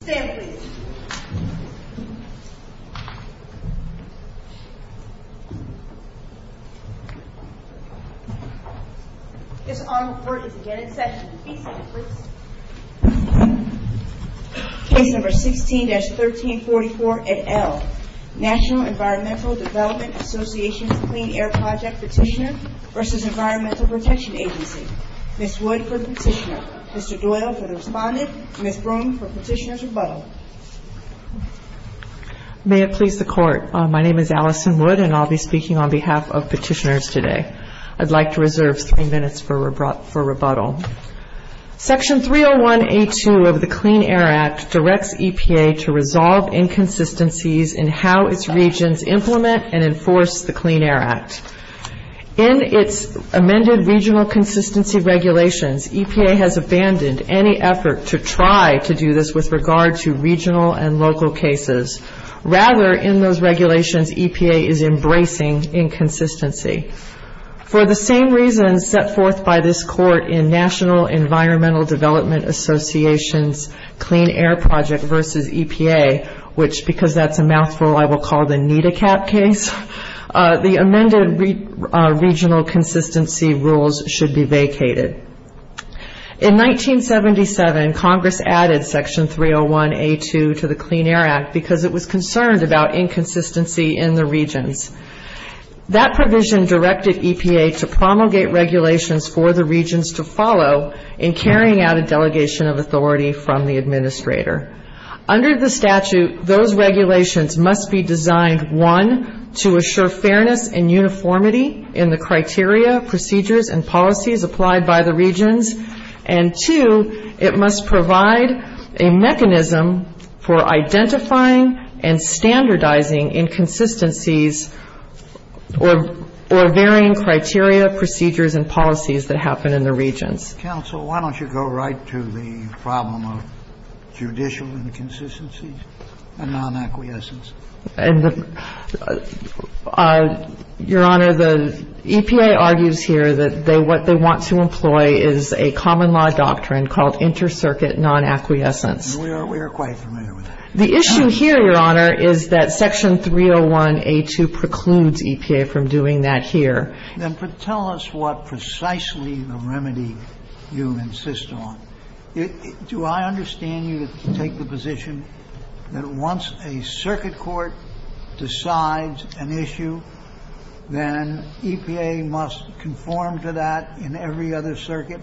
State number 16-1344 et al. National Environmental Development Association's Clean Air Project Petitioners v. Environmental Protection Agency. Ms. Wood for Petitioners. Mr. Duela for Respondent. Ms. Broome for Petitioners' Rebuttal. May it please the Court. My name is Allison Wood and I'll be speaking on behalf of Petitioners today. I'd like to reserve a few minutes for rebuttal. Section 301A2 of the Clean Air Act directs EPA to resolve inconsistencies in how its regions implement and enforce the Clean Air Act. In its amended regional consistency regulations, EPA has abandoned any effort to try to do this with regard to regional and local cases. Rather, in those regulations, EPA is embracing inconsistency. For the same reasons set forth by this Court in National Environmental Development Association's Clean Air Project v. EPA, which because that's a mouthful I will call the NEDACAP case, the amended regional consistency rules should be vacated. In 1977, Congress added Section 301A2 to the Clean Air Act because it was concerned about inconsistency in the regions. That provision directed EPA to promulgate regulations for the regions to follow in carrying out a delegation of authority from the administrator. Under the statute, those regulations must be designed, one, to assure fairness and uniformity in the criteria, procedures, and policies applied by the regions, and two, it must provide a mechanism for identifying and standardizing inconsistencies or varying criteria, procedures, and policies that happen in the regions. Counsel, why don't you go right to the problem of judicial inconsistencies and non-acquiescence. Your Honor, EPA argues here that what they want to employ is a common law doctrine called inter-circuit non-acquiescence. We are quite familiar with that. The issue here, Your Honor, is that Section 301A2 precludes EPA from doing that here. Then tell us what precisely the remedy you insist on. Do I understand you to take the position that once a circuit court decides an issue, then EPA must conform to that in every other circuit?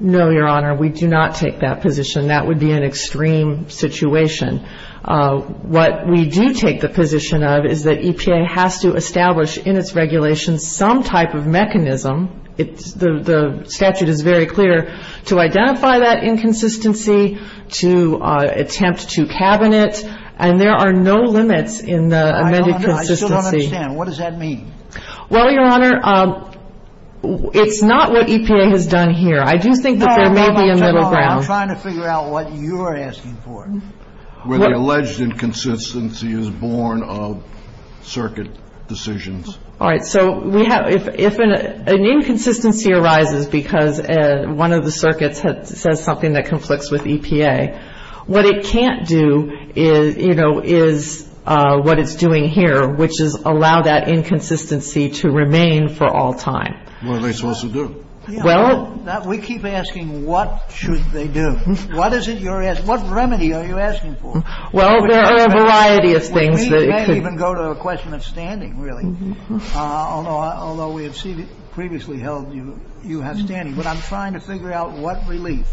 No, Your Honor, we do not take that position. That would be an extreme situation. What we do take the position of is that EPA has to establish in its regulations some type of mechanism. The statute is very clear to identify that inconsistency, to attempt to cavern it, and there are no limits in the amended consistency. I still don't understand. What does that mean? Well, Your Honor, it's not what EPA has done here. I do think that there may be another ground. I'm trying to figure out what you're asking for. Where the alleged inconsistency is born of circuit decisions. All right, so if an inconsistency arises because one of the circuits says something that conflicts with EPA, what it can't do is what it's doing here, which is allow that inconsistency to remain for all time. What are they supposed to do? We keep asking what should they do? What is it you're asking? What remedy are you asking for? Well, there are a variety of things. We can't even go to the question of standing, really, although we had previously held you have standing. But I'm trying to figure out what relief.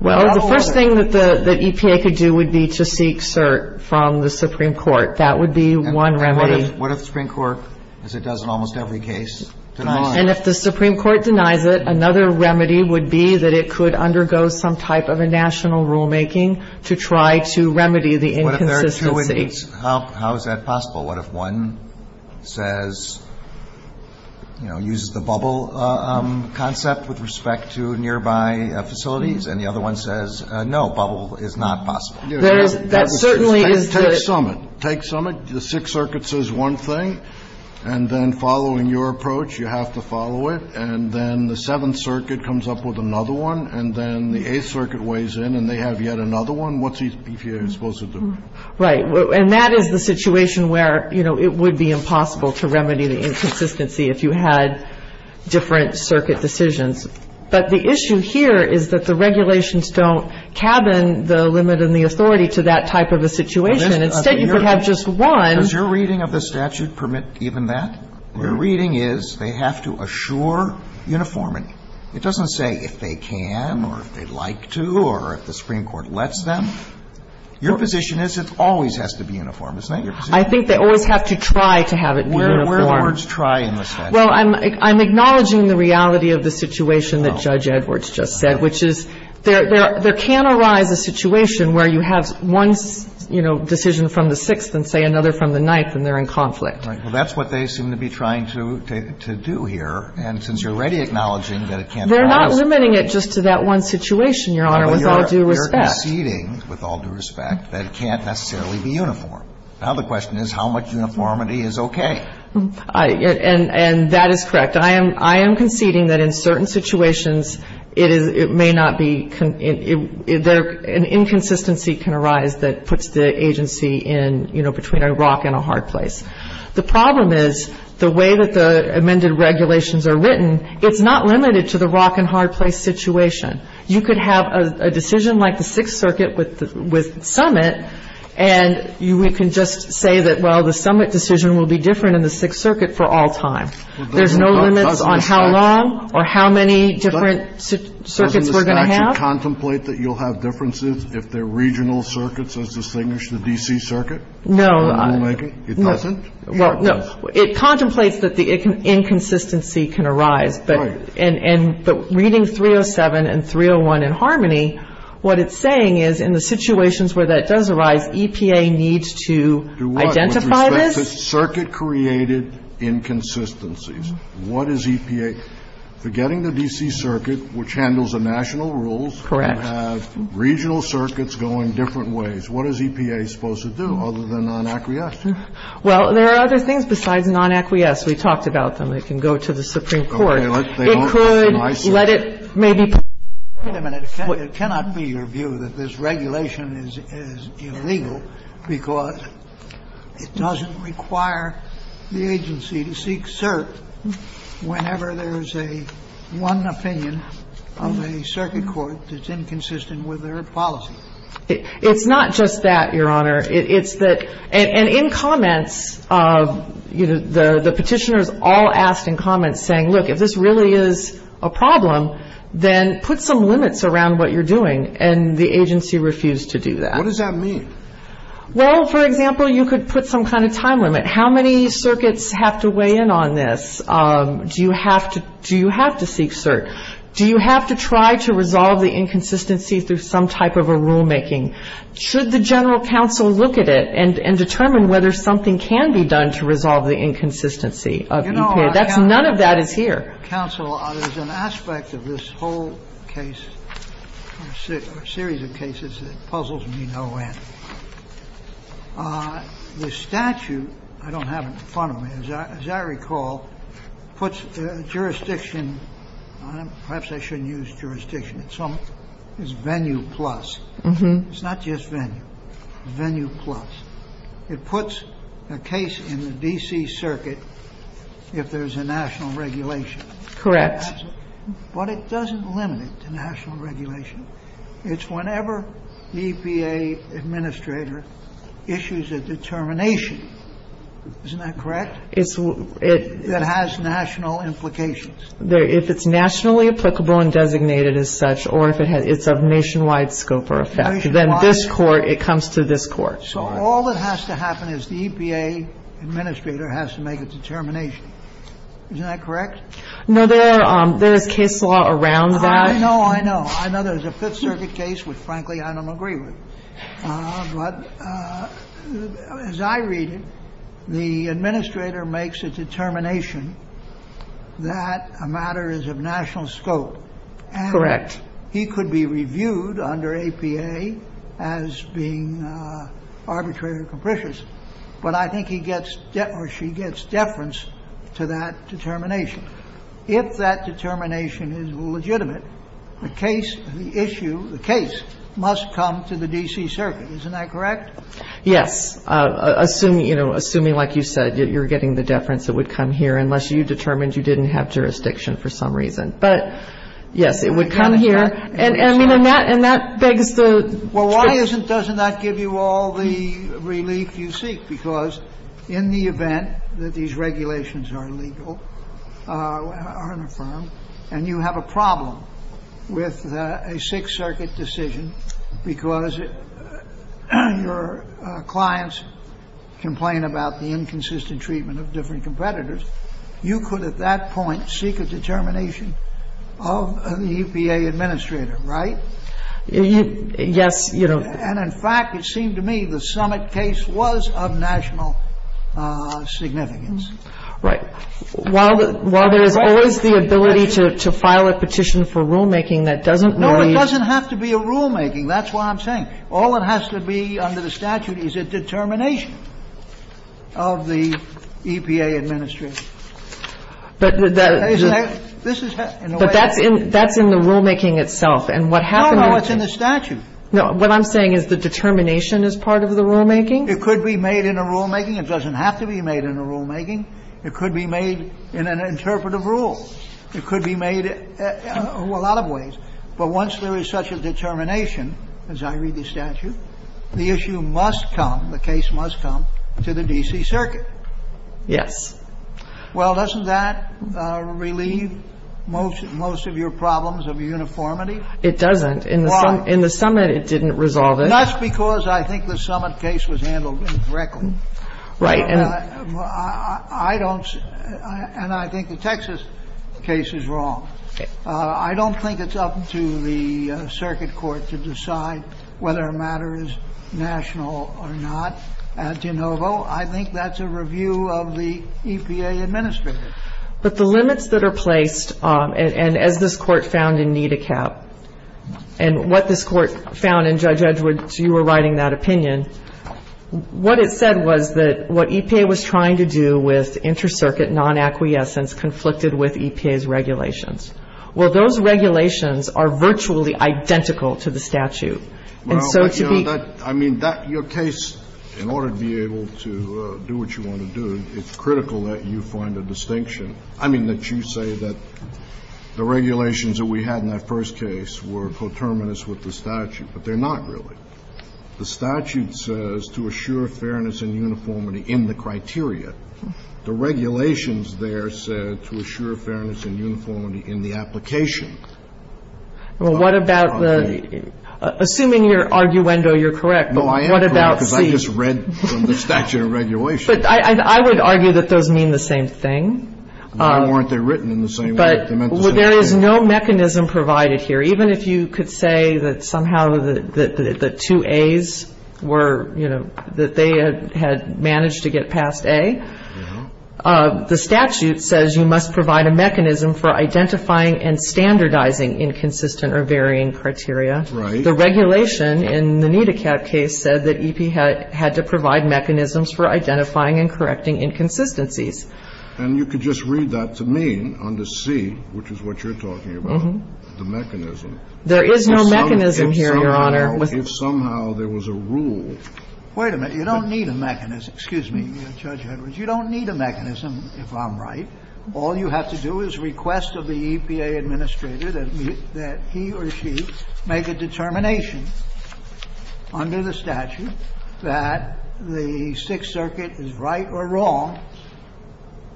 Well, the first thing that EPA could do would be to seek cert from the Supreme Court. That would be one remedy. And if the Supreme Court denies it, another remedy would be that it could undergo some type of a national rulemaking to try to remedy the inconsistency. How is that possible? What if one says, you know, uses the bubble concept with respect to nearby facilities and the other one says, no, bubble is not possible. That certainly is. Take some of it. The Sixth Circuit says one thing. And then following your approach, you have to follow it. And then the Seventh Circuit comes up with another one. And then the Eighth Circuit weighs in and they have yet another one. What's EPA supposed to do? Right. And that is the situation where, you know, it would be impossible to remedy the inconsistency if you had different circuit decisions. But the issue here is that the regulations don't cabin the limit and the authority to that type of a situation. It says you could have just one. Does your reading of the statute permit even that? Your reading is they have to assure uniformity. It doesn't say if they can or if they'd like to or if the Supreme Court lets them. Your position is it always has to be uniform. Isn't that your position? I think they always have to try to have it be uniform. Where do words try in the statute? Well, I'm acknowledging the reality of the situation that Judge Edwards just said, which is there can arise a situation where you have one, you know, decision from the Sixth and, say, another from the Ninth and they're in conflict. Right. Well, that's what they seem to be trying to do here. And since you're already acknowledging that it can't be uniform. They're not limiting it just to that one situation, Your Honor, with all due respect. They're conceding, with all due respect, that it can't necessarily be uniform. Now the question is how much uniformity is okay? And that is correct. I am conceding that in certain situations it may not be an inconsistency can arise that puts the agency in, you know, between a rock and a hard place. The problem is the way that the amended regulations are written, it's not limited to the rock and hard place situation. You could have a decision like the Sixth Circuit with summit and we can just say that, well, the summit decision will be different in the Sixth Circuit for all time. There's no limits on how long or how many different circuits we're going to have. Doesn't the statute contemplate that you'll have differences if the regional circuits are distinguished, the D.C. Circuit? No. It doesn't? Well, no. It contemplates that the inconsistency can arise. Right. But reading 307 and 301 in harmony, what it's saying is in the situations where that does arise, EPA needs to identify this. Circuit created inconsistencies. What is EPA getting the D.C. Circuit, which handles the national rules? Correct. Regional circuits go in different ways. What is EPA supposed to do other than an acquiescence? Well, there are other things besides non acquiesce. We talked about them. They can go to the Supreme Court. They could let it maybe. Wait a minute. It cannot be your view that this regulation is illegal because it doesn't require the agency to seek cert whenever there is a one opinion of a circuit court that's inconsistent with their policy. It's not just that, Your Honor. And in comments, the petitioners all asked in comments saying, look, if this really is a problem, then put some limits around what you're doing. And the agency refused to do that. What does that mean? Well, for example, you could put some kind of time limit. How many circuits have to weigh in on this? Do you have to seek cert? Do you have to try to resolve the inconsistency through some type of a rulemaking? Should the general counsel look at it and determine whether something can be done to resolve the inconsistency of EPA? None of that is here. Counsel, there's an aspect of this whole case, a series of cases that puzzles me no end. The statute, I don't have it in front of me, as I recall, puts jurisdiction on it. Perhaps I shouldn't use jurisdiction. It's venue plus. It's not just venue. Venue plus. It puts a case in the D.C. circuit if there's a national regulation. Correct. But it doesn't limit it to national regulation. It's whenever the EPA administrator issues a determination. Isn't that correct? It has national implications. If it's nationally applicable and designated as such or if it's of nationwide scope or effect, then this court, it comes to this court. So all that has to happen is the EPA administrator has to make a determination. Isn't that correct? No, there are case law around that. I know, I know. I know there's a Fifth Circuit case which, frankly, I don't agree with. But as I read it, the administrator makes a determination that a matter is of national scope. Correct. He could be reviewed under EPA as being arbitrary and capricious. But I think he gets or she gets deference to that determination. If that determination is legitimate, the case, the issue, the case must come to the D.C. circuit. Isn't that correct? Yes. Assuming, you know, assuming like you said, you're getting the deference, it would come here unless you determined you didn't have jurisdiction for some reason. But, yes, it would come here. And, you know, Matt, and that begs the question. Doesn't doesn't that give you all the relief you seek? Because in the event that these regulations are illegal and you have a problem with a Sixth Circuit decision because your clients complain about the inconsistent treatment of different competitors. You could at that point seek a determination of the EPA administrator. Right. Yes. You know, and in fact, it seemed to me the summit case was of national significance. Right. While while there is the ability to file a petition for rulemaking, that doesn't mean it doesn't have to be a rulemaking. That's why I'm saying all it has to be under the statute is a determination of the EPA administrator. But that's in the rulemaking itself. And what happens in the statute. Now, what I'm saying is the determination is part of the rulemaking. It could be made in a rulemaking. It doesn't have to be made in a rulemaking. It could be made in an interpretive rule. It could be made a lot of ways. But once there is such a determination, as I read the statute, the issue must come. The case must come to the D.C. circuit. Yes. Well, doesn't that relieve most of your problems of uniformity? It doesn't. In the summit it didn't resolve it. That's because I think the summit case was handled incorrectly. Right. And I don't and I think the Texas case is wrong. I don't think it's up to the circuit court to decide whether a matter is national or not. I think that's a review of the EPA administrator. But the limits that are placed, and as this court found in NIDACAP, and what this court found, and Judge Edwards, you were writing that opinion, what it said was that what EPA was trying to do with inter-circuit non-acquiescence conflicted with EPA's regulations. Well, those regulations are virtually identical to the statute. I mean, your case, in order to be able to do what you want to do, it's critical that you find a distinction. I mean that you say that the regulations that we had in that first case were coterminous with the statute, but they're not really. The statute says to assure fairness and uniformity in the criteria. The regulations there say to assure fairness and uniformity in the application. Well, what about the – assuming your arguendo, you're correct. No, I am correct because I just read from the statute of regulations. But I would argue that those mean the same thing. Why weren't they written in the same way? But there is no mechanism provided here. Even if you could say that somehow the two A's were, you know, that they had managed to get past A, the statute says you must provide a mechanism for identifying and standardizing inconsistent or varying criteria. Right. The regulation in the NEDACAP case said that EPA had to provide mechanisms for identifying and correcting inconsistencies. And you could just read that to me on the C, which is what you're talking about, the mechanism. There is no mechanism here, Your Honor. If somehow there was a rule. Wait a minute. You don't need a mechanism. Excuse me, Judge Edwards. You don't need a mechanism if I'm right. All you have to do is request of the EPA administrator that he or she make a determination under the statute that the Sixth Circuit is right or wrong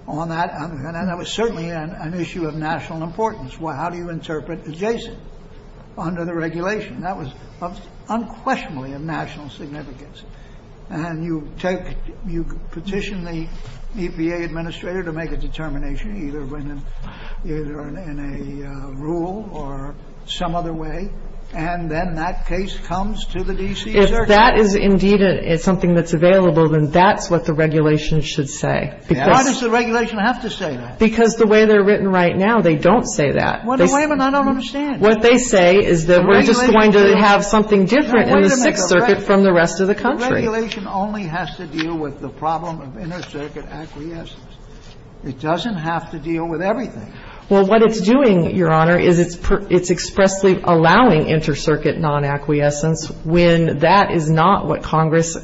on that. And that was certainly an issue of national importance. Well, how do you interpret adjacent under the regulation? That was unquestionably of national significance. And you take, you petition the EPA administrator to make a determination, either in a rule or some other way, and then that case comes to the D.C. Circuit. If that is indeed something that's available, then that's what the regulation should say. Why does the regulation have to say that? Because the way they're written right now, they don't say that. What do you mean I don't understand? What they say is that we're just going to have something different in the Sixth Circuit from the rest of the country. The regulation only has to deal with the problem of inter-circuit acquiescence. It doesn't have to deal with everything. Well, what it's doing, Your Honor, is it's expressly allowing inter-circuit non-acquiescence when that is not what Congress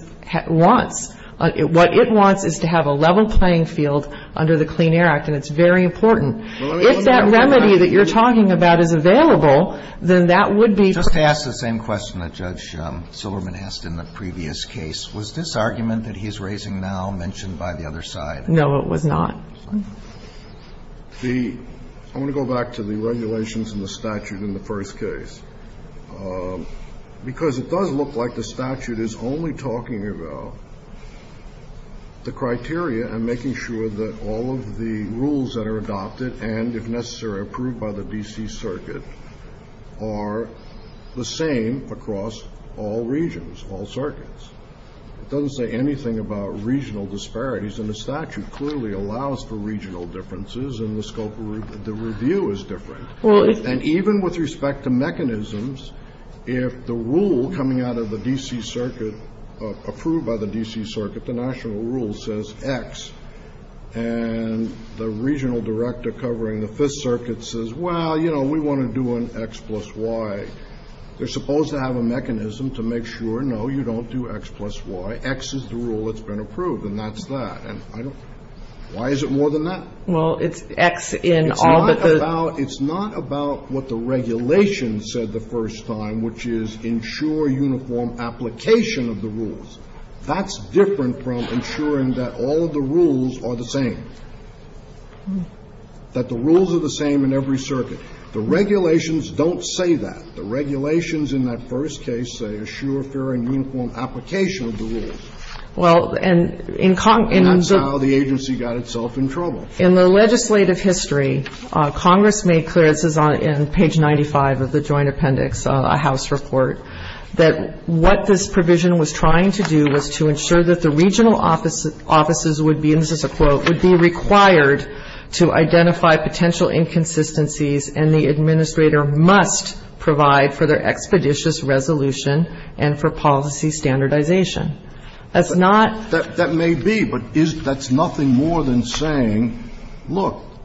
wants. What it wants is to have a level playing field under the Clean Air Act, and it's very important. If that remedy that you're talking about is available, then that would be... Just to ask the same question that Judge Silverman asked in the previous case, was this argument that he's raising now mentioned by the other side? No, it was not. I want to go back to the regulations and the statute in the first case, because it does look like the statute is only talking about the criteria and making sure that all of the rules that are adopted and, if necessary, approved by the D.C. Circuit are the same across all regions, all circuits. It doesn't say anything about regional disparities, and the statute clearly allows for regional differences and the scope of the review is different. And even with respect to mechanisms, if the rule coming out of the D.C. Circuit, approved by the D.C. Circuit, the national rule says X, and the regional director covering the 5th Circuit says, well, you know, we want to do an X plus Y. They're supposed to have a mechanism to make sure, no, you don't do X plus Y. X is the rule that's been approved, and that's that. Why is it more than that? Well, it's X in all the... It's not about what the regulations said the first time, which is ensure uniform application of the rules. That's different from ensuring that all the rules are the same, that the rules are the same in every circuit. The regulations don't say that. The regulations in that first case say assure fair and uniform application of the rules. And that's how the agency got itself in trouble. In the legislative history, Congress made clear, this is on page 95 of the Joint Appendix House Report, that what this provision was trying to do was to ensure that the regional offices would be, and this is a quote, would be required to identify potential inconsistencies, and the administrator must provide for their expeditious resolution and for policy standardization. That's not... Look,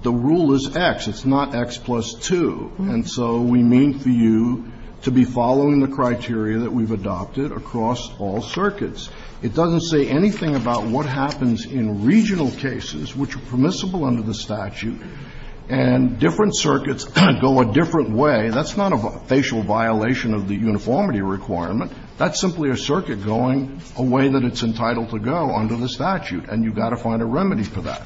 the rule is X. It's not X plus 2. And so we mean for you to be following the criteria that we've adopted across all circuits. It doesn't say anything about what happens in regional cases, which are permissible under the statute, and different circuits go a different way. That's not a facial violation of the uniformity requirement. That's simply a circuit going a way that it's entitled to go under the statute, and you've got to find a remedy for that.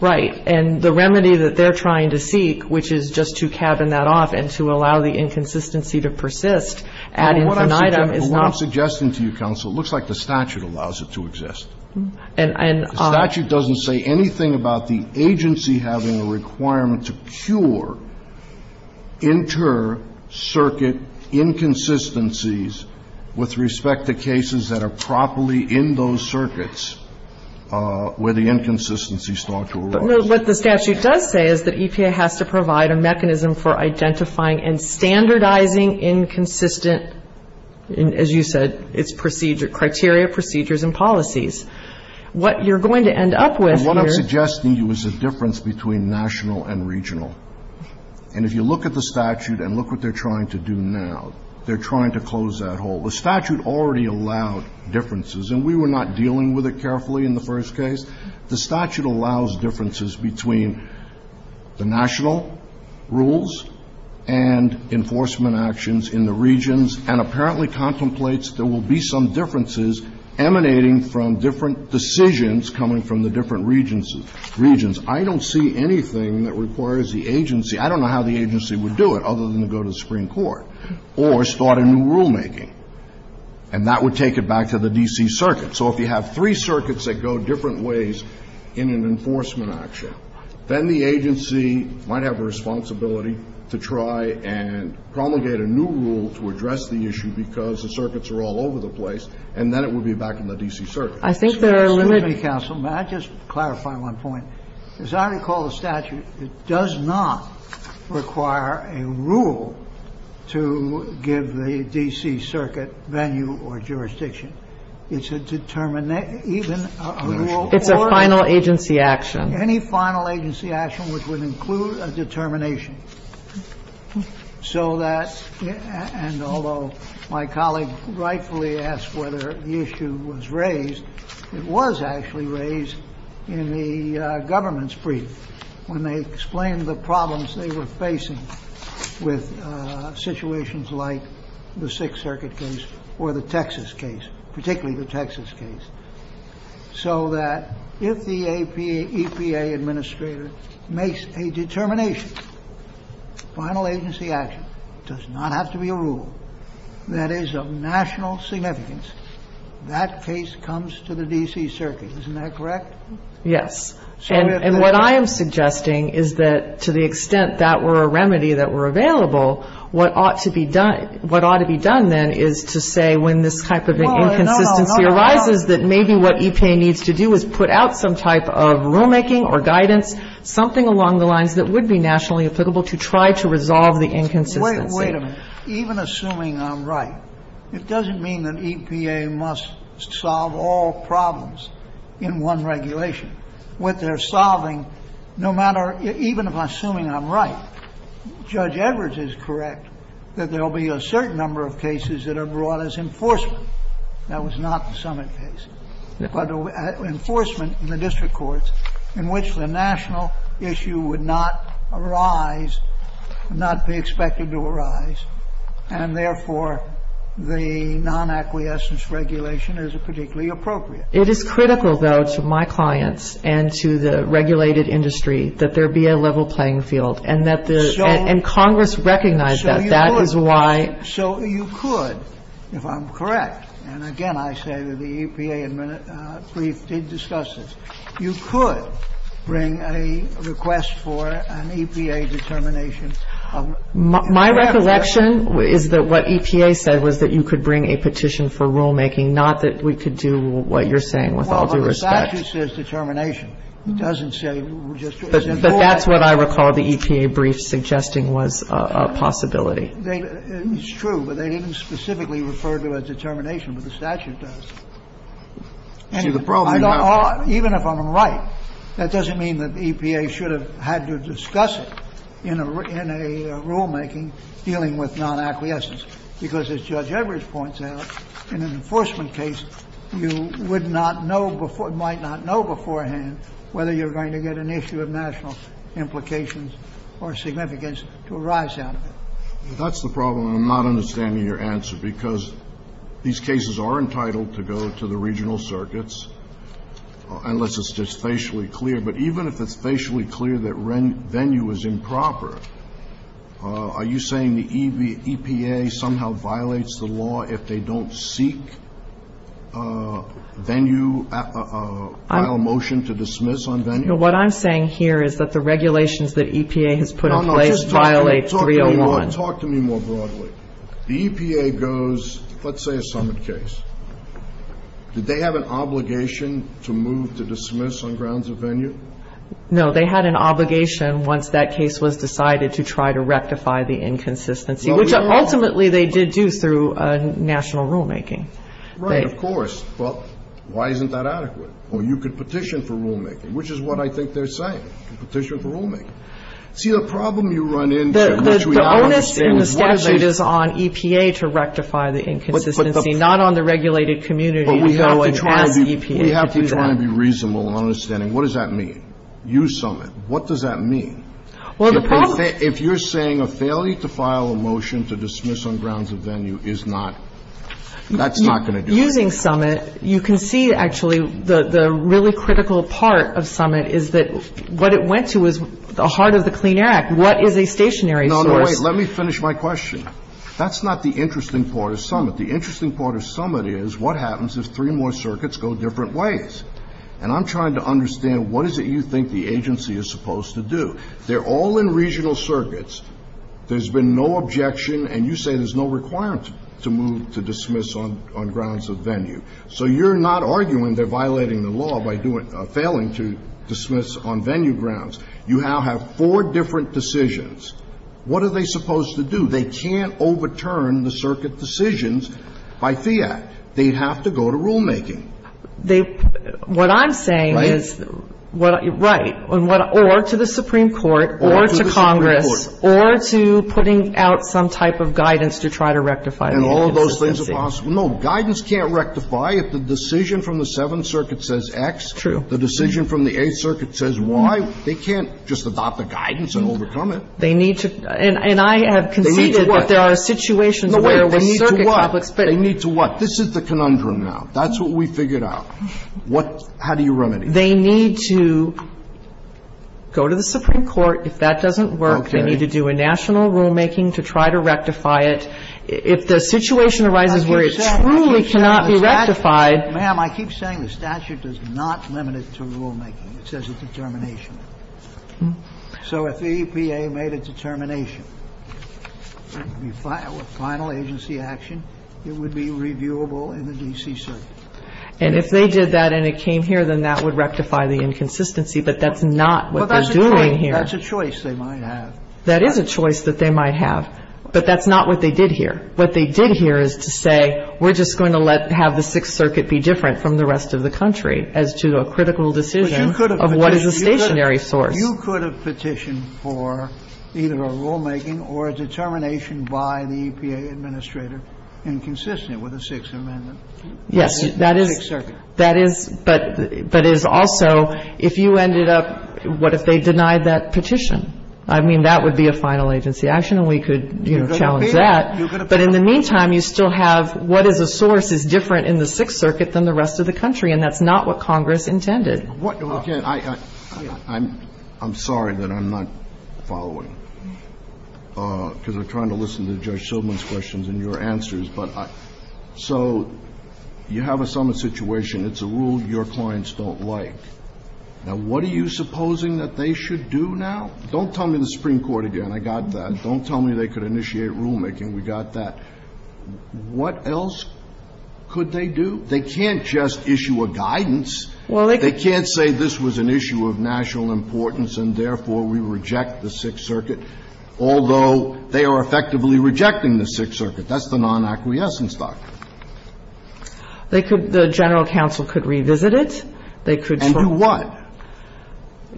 Right. And the remedy that they're trying to seek, which is just to cabin that off and to allow the inconsistency to persist, adding to an item is not... What I'm suggesting to you, counsel, looks like the statute allows it to exist. And... The statute doesn't say anything about the agency having a requirement to cure inter-circuit inconsistencies with respect to cases that are properly in those circuits where the inconsistencies start to arise. What the statute does say is that EPA has to provide a mechanism for identifying and standardizing inconsistent, as you said, criteria, procedures, and policies. What you're going to end up with here... What I'm suggesting to you is a difference between national and regional. And if you look at the statute and look what they're trying to do now, they're trying to close that hole. The statute already allowed differences, and we were not dealing with it carefully in the first case. The statute allows differences between the national rules and enforcement actions in the regions, and apparently contemplates there will be some differences emanating from different decisions coming from the different regions. I don't see anything that requires the agency... I don't know how the agency would do it other than to go to the Supreme Court. Or start a new rulemaking. And that would take it back to the D.C. Circuit. So if you have three circuits that go different ways in an enforcement action, then the agency might have a responsibility to try and promulgate a new rule to address the issue because the circuits are all over the place, and then it would be back in the D.C. Circuit. Excuse me, counsel. May I just clarify one point? As I recall the statute, it does not require a rule to give the D.C. Circuit venue or jurisdiction. It's a... even a rule... It's a final agency action. Any final agency action which would include a determination. So that... and although my colleague rightfully asked whether the issue was raised, it was actually raised in the government's brief when they explained the problems they were facing with situations like the Sixth Circuit case or the Texas case, particularly the Texas case. So that if the EPA administrator makes a determination, final agency action, does not have to be a rule that is of national significance, that case comes to the D.C. Circuit. Isn't that correct? Yes. And what I am suggesting is that to the extent that were a remedy that were available, what ought to be done then is to say when this type of inconsistency arises, that maybe what EPA needs to do is put out some type of rulemaking or guidance, something along the lines that would be nationally applicable to try to resolve the inconsistency. Wait a minute. Even assuming I'm right, it doesn't mean that EPA must solve all problems in one regulation. What they're solving, no matter... even if I'm assuming I'm right, Judge Edwards is correct that there will be a certain number of cases that are brought as enforcement. That was not the Summit case. But enforcement in the district courts in which the national issue would not arise, not be expected to arise, and therefore the non-acquiescence regulation is particularly appropriate. It is critical, though, to my clients and to the regulated industry that there be a level playing field, and that the... and Congress recognize that. That is why... So you could, if I'm correct, and again I say that the EPA brief did discuss this, you could bring a request for an EPA determination of... My recollection is that what EPA said was that you could bring a petition for rulemaking, not that we could do what you're saying with all due respect. Well, the statute says determination. It doesn't say... But that's what I recall the EPA brief suggesting was a possibility. It's true, but they didn't specifically refer to a determination, but the statute does. Even if I'm right, that doesn't mean that EPA should have had to discuss it in a rulemaking dealing with non-acquiescence, because as Judge Everett points out, in an enforcement case, you would not know before... might not know beforehand whether you're going to get an issue of national implications or significance to arise out of it. That's the problem. I'm not understanding your answer, because these cases are entitled to go to the regional circuits, unless it's just facially clear. But even if it's facially clear that venue is improper, are you saying the EPA somehow violates the law if they don't seek venue, file a motion to dismiss on venue? What I'm saying here is that the regulations that EPA has put in place violate... Talk to me more broadly. The EPA goes... let's say a summit case. Did they have an obligation to move to dismiss on grounds of venue? No. They had an obligation, once that case was decided, to try to rectify the inconsistency, which ultimately they did do through national rulemaking. Right, of course. Well, why isn't that adequate? Well, you could petition for rulemaking, which is what I think they're saying. Petition for rulemaking. See, the problem you run into... But we have to try and be reasonable in understanding, what does that mean? Use summit. What does that mean? Well, the problem... If you're saying a failure to file a motion to dismiss on grounds of venue is not... that's not going to do it. Using summit, you can see, actually, the really critical part of summit is that what it went to is the heart of the Clean Air Act. What is a stationary... No, no, wait. Let me finish my question. That's not the interesting part of summit. The interesting part of summit is, what happens if three more circuits go different ways? And I'm trying to understand, what is it you think the agency is supposed to do? They're all in regional circuits. There's been no objection, and you say there's no requirement to move to dismiss on grounds of venue. So, you're not arguing they're violating the law by failing to dismiss on venue grounds. You now have four different decisions. What are they supposed to do? They can't overturn the circuit decisions by fiat. They'd have to go to rulemaking. What I'm saying is... Right. Right. Or to the Supreme Court, or to Congress, or to putting out some type of guidance to try to rectify... And all of those things are possible. No, guidance can't rectify if the decision from the Seventh Circuit says X. True. The decision from the Eighth Circuit says Y. They can't just adopt the guidance and overturn it. They need to... And I have conceded that there are situations... They need to what? They need to what? This is the conundrum now. That's what we figured out. How do you remedy it? They need to go to the Supreme Court. If that doesn't work, they need to do a national rulemaking to try to rectify it. If the situation arises where it truly cannot be rectified... Ma'am, I keep saying the statute does not limit it to rulemaking. It says it's determination. So if the EPA made a determination, a final agency action, it would be reviewable in the D.C. Circuit. And if they did that and it came here, then that would rectify the inconsistency. But that's not what they're doing here. Well, that's a choice they might have. That is a choice that they might have. But that's not what they did here. What they did here is to say we're just going to let... have the Sixth Circuit be different from the rest of the country... to do a critical decision of what is a stationary source. You could have petitioned for either a rulemaking or a determination by the EPA administrator... inconsistent with the Sixth Amendment... Yes, that is... in the Sixth Circuit. That is, but it is also, if you ended up... what if they denied that petition? I mean, that would be a final agency action and we could, you know, challenge that. But in the meantime, you still have what is a source is different in the Sixth Circuit than the rest of the country... and that's not what Congress intended. Okay, I'm sorry that I'm not following. Because I'm trying to listen to Judge Silverman's questions and your answers. But, so, you have a summit situation. It's a rule your clients don't like. Now, what are you supposing that they should do now? Don't tell me the Supreme Court again. I got that. Don't tell me they could initiate rulemaking. We got that. What else could they do? They can't just issue a guidance. They can't say this was an issue of national importance and therefore we reject the Sixth Circuit... although they are effectively rejecting the Sixth Circuit. That's the non-acquiescence doctrine. They could... the General Counsel could revisit it. They could... And do what?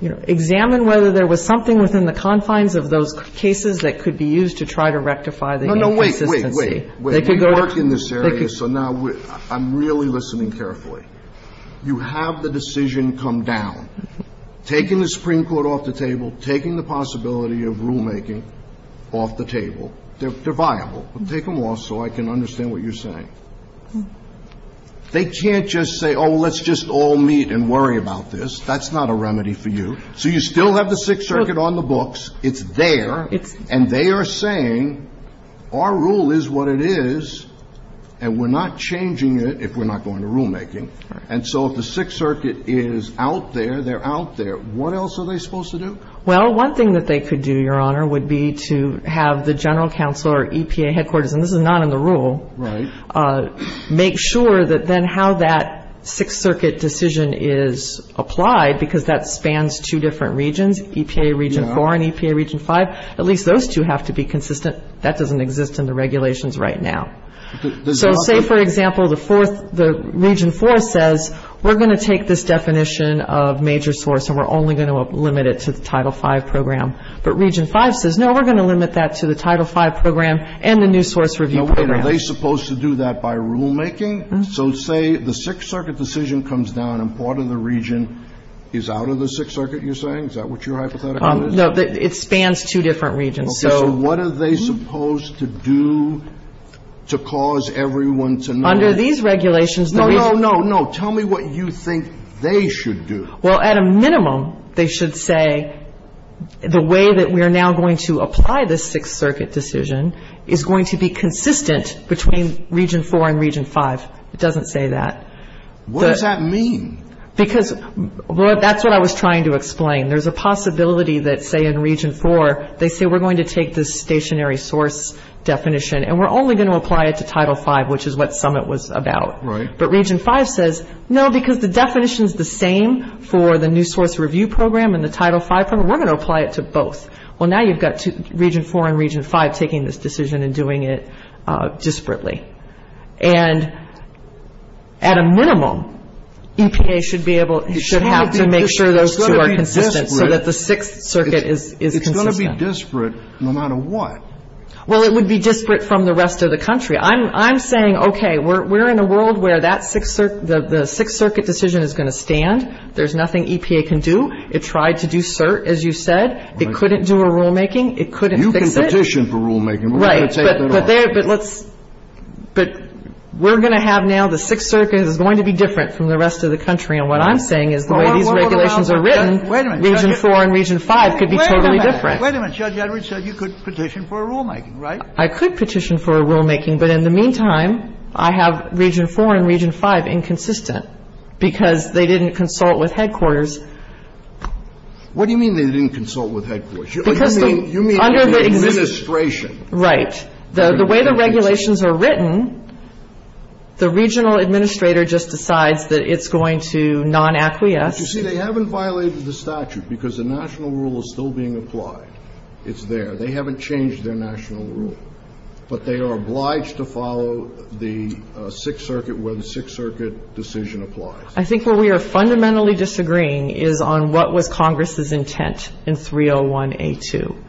Examine whether there was something within the confines of those cases that could be used to try to rectify the... No, no, wait, wait, wait. So, now, I'm really listening carefully. You have the decision come down. Taking the Supreme Court off the table. Taking the possibility of rulemaking off the table. They're viable. Take them off, so I can understand what you're saying. They can't just say, oh, let's just all meet and worry about this. That's not a remedy for you. So, you still have the Sixth Circuit on the books. It's there. And they are saying our rule is what it is and we're not changing it if we're not going to rulemaking. And so, if the Sixth Circuit is out there, they're out there. What else are they supposed to do? Well, one thing that they could do, Your Honor, would be to have the General Counsel or EPA headquarters... and this is not in the rule... Right. Make sure that then how that Sixth Circuit decision is applied because that spans two different regions. EPA Region 4 and EPA Region 5. At least those two have to be consistent. That doesn't exist in the regulations right now. So, say for example, the fourth... the Region 4 says, we're going to take this definition of major source... and we're only going to limit it to the Title V program. But, Region 5 says, no, we're going to limit that to the Title V program and the New Source Review Program. Are they supposed to do that by rulemaking? So, say the Sixth Circuit decision comes down and part of the region is out of the Sixth Circuit, you're saying? Is that what your hypothetical is? No, it spans two different regions. Okay. So, what are they supposed to do to cause everyone to know? Under these regulations... No, no, no, no. Tell me what you think they should do. Well, at a minimum, they should say, the way that we are now going to apply this Sixth Circuit decision... is going to be consistent between Region 4 and Region 5. It doesn't say that. What does that mean? Because, that's what I was trying to explain. There's a possibility that, say in Region 4, they say, we're going to take this stationary source definition... and we're only going to apply it to Title V, which is what Summit was about. Right. But, Region 5 says, no, because the definition is the same for the New Source Review Program and the Title V program... we're going to apply it to both. Well, now you've got Region 4 and Region 5 taking this decision and doing it disparately. And, at a minimum, EPA should be able... should have to make sure those two are consistent, so that the Sixth Circuit is consistent. It's going to be disparate, no matter what. Well, it would be disparate from the rest of the country. I'm saying, okay, we're in a world where that Sixth Circuit... the Sixth Circuit decision is going to stand. There's nothing EPA can do. It tried to do cert, as you said. It couldn't do a rulemaking. It couldn't fix it. You can petition for rulemaking. We're going to take that off. But, we're going to have now... the Sixth Circuit is going to be different from the rest of the country. And, what I'm saying is the way these regulations are written... Wait a minute. Region 4 and Region 5 could be totally different. Wait a minute. Judge Edwards said you could petition for rulemaking, right? I could petition for rulemaking, but in the meantime, I have Region 4 and Region 5 inconsistent, because they didn't consult with headquarters. What do you mean they didn't consult with headquarters? Because they... You mean the administration. Right. The way the regulations are written, the regional administrator just decides that it's going to non-acquiesce. You see, they haven't violated the statute, because the national rule is still being applied. It's there. They haven't changed their national rule. But, they are obliged to follow the Sixth Circuit when the Sixth Circuit decision applies. I think what we are fundamentally disagreeing is on what was Congress' intent in 301A2.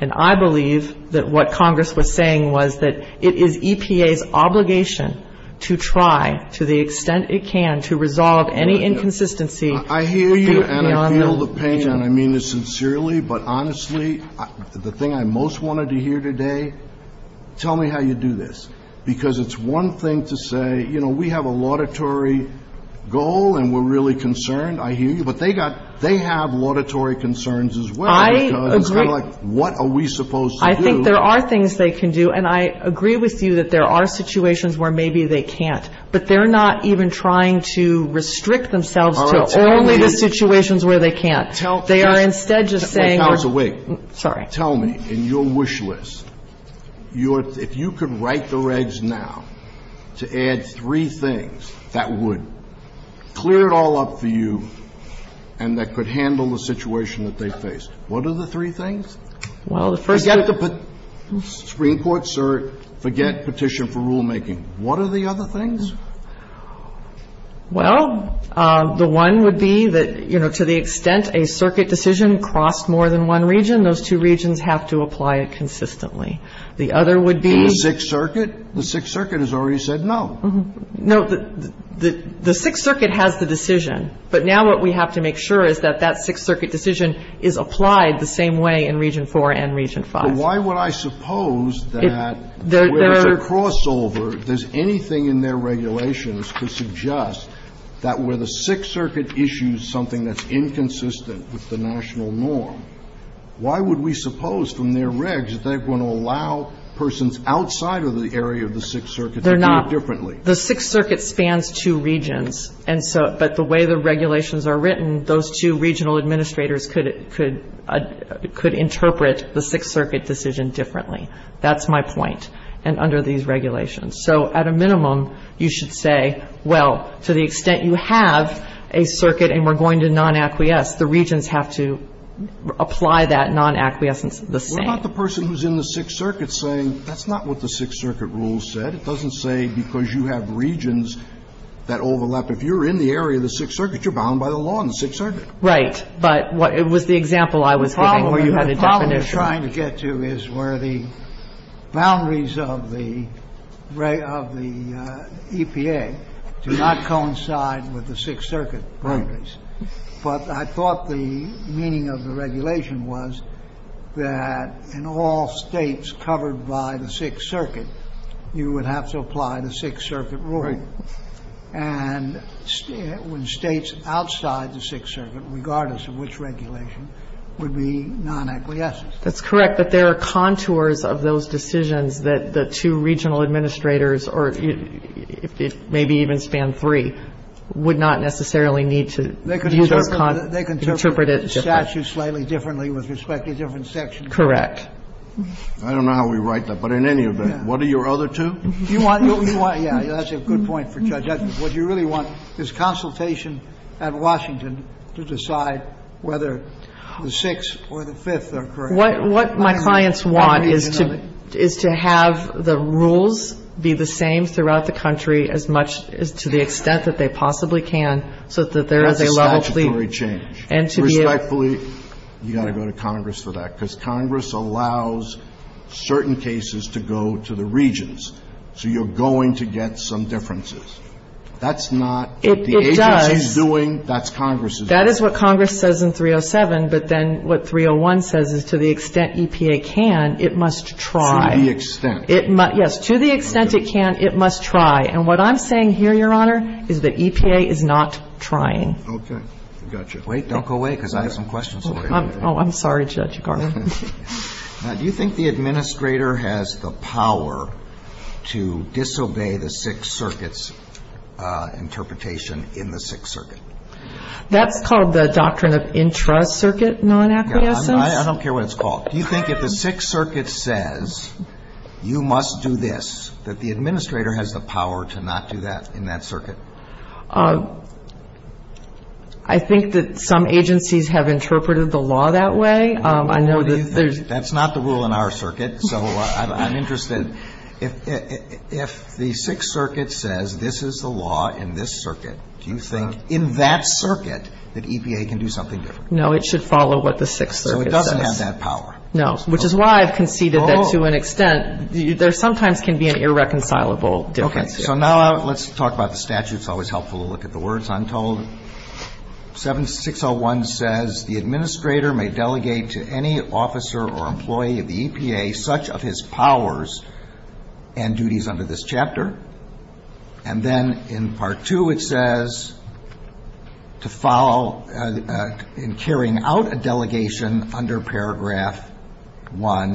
And, I believe that what Congress was saying was that it is EPA's obligation to try, to the extent it can, to resolve any inconsistency... I hear you, and I feel the pain, and I mean this sincerely, but honestly, the thing I most wanted to hear today... Tell me how you do this, because it's one thing to say, you know, we have a laudatory goal, and we're really concerned. I hear you. But, they have laudatory concerns as well. I agree. Because, they're like, what are we supposed to do? I think there are things they can do, and I agree with you that there are situations where maybe they can't. But, they're not even trying to restrict themselves to only the situations where they can't. Tell me... They are instead just saying... If you could write the regs now, to add three things that would clear it all up for you, and that could handle the situation that they face, what are the three things? Well, the first... Forget the Supreme Court, sir. Forget petition for rulemaking. What are the other things? Well, the one would be that, you know, to the extent a circuit decision crossed more than one region, those two regions have to apply it consistently. The other would be... The Sixth Circuit? The Sixth Circuit has already said no. No, the Sixth Circuit has the decision, but now what we have to make sure is that that Sixth Circuit decision is applied the same way in Region 4 and Region 5. But, why would I suppose that... There...... where there's a crossover, if there's anything in their regulations to suggest that where the Sixth Circuit issues something that's inconsistent with the national norm, why would we suppose from their regs that they're going to allow persons outside of the area of the Sixth Circuit to do it differently? They're not. The Sixth Circuit spans two regions. But, the way the regulations are written, those two regional administrators could interpret the Sixth Circuit decision differently. That's my point, and under these regulations. So, at a minimum, you should say, well, to the extent you have a circuit and we're going to non-acquiesce, the regions have to apply that non-acquiescence the same. It's not the person who's in the Sixth Circuit saying, that's not what the Sixth Circuit rules said. It doesn't say because you have regions that overlap. If you're in the area of the Sixth Circuit, you're bound by the law in the Sixth Circuit. Right, but with the example I was giving... The problem we're trying to get to is where the boundaries of the EPA do not coincide with the Sixth Circuit boundaries. But, I thought the meaning of the regulation was that in all states covered by the Sixth Circuit, you would have to apply the Sixth Circuit ruling. And, when states outside the Sixth Circuit, regardless of which regulation, would be non-acquiescent. That's correct, but there are contours of those decisions that the two regional administrators, or maybe even span three, would not necessarily need to... They can interpret it slightly differently with respect to different sections. Correct. I don't know how we write that, but in any event, what do your other two... Do you want... Yeah, that's a good point for judges. What you really want is consultation at Washington to decide whether the Sixth or the Fifth are correct. What my clients want is to have the rules be the same throughout the country, as much to the extent that they possibly can, so that there is a level of... That's a statutory change. And, to be a... Which, I believe, you've got to go to Congress for that, because Congress allows certain cases to go to the regions. So, you're going to get some differences. That's not... If the agency is doing, that's Congress's job. That is what Congress says in 307, but then what 301 says is, to the extent EPA can, it must try. To the extent. Yes, to the extent it can, it must try. And, what I'm saying here, Your Honor, is that EPA is not trying. Okay, gotcha. Wait, don't go away, because I have some questions. Oh, I'm sorry, Judge Garland. Now, do you think the administrator has the power to disobey the Sixth Circuit's interpretation in the Sixth Circuit? That's called the Doctrine of Intra-Circuit Non-Acquiescence? No, I don't care what it's called. Do you think if the Sixth Circuit says, you must do this, that the administrator has the power to not do that in that circuit? I think that some agencies have interpreted the law that way. I know that there's... That's not the rule in our circuit, so I'm interested. If the Sixth Circuit says, this is the law in this circuit, do you think in that circuit that EPA can do something different? No, it should follow what the Sixth Circuit says. So, it doesn't have that power? No, which is why I've conceded that, to an extent, there sometimes can be an irreconcilable difference here. Okay, so now let's talk about the statute. It's always helpful to look at the words untold. 7601 says... And then in Part 2, it says......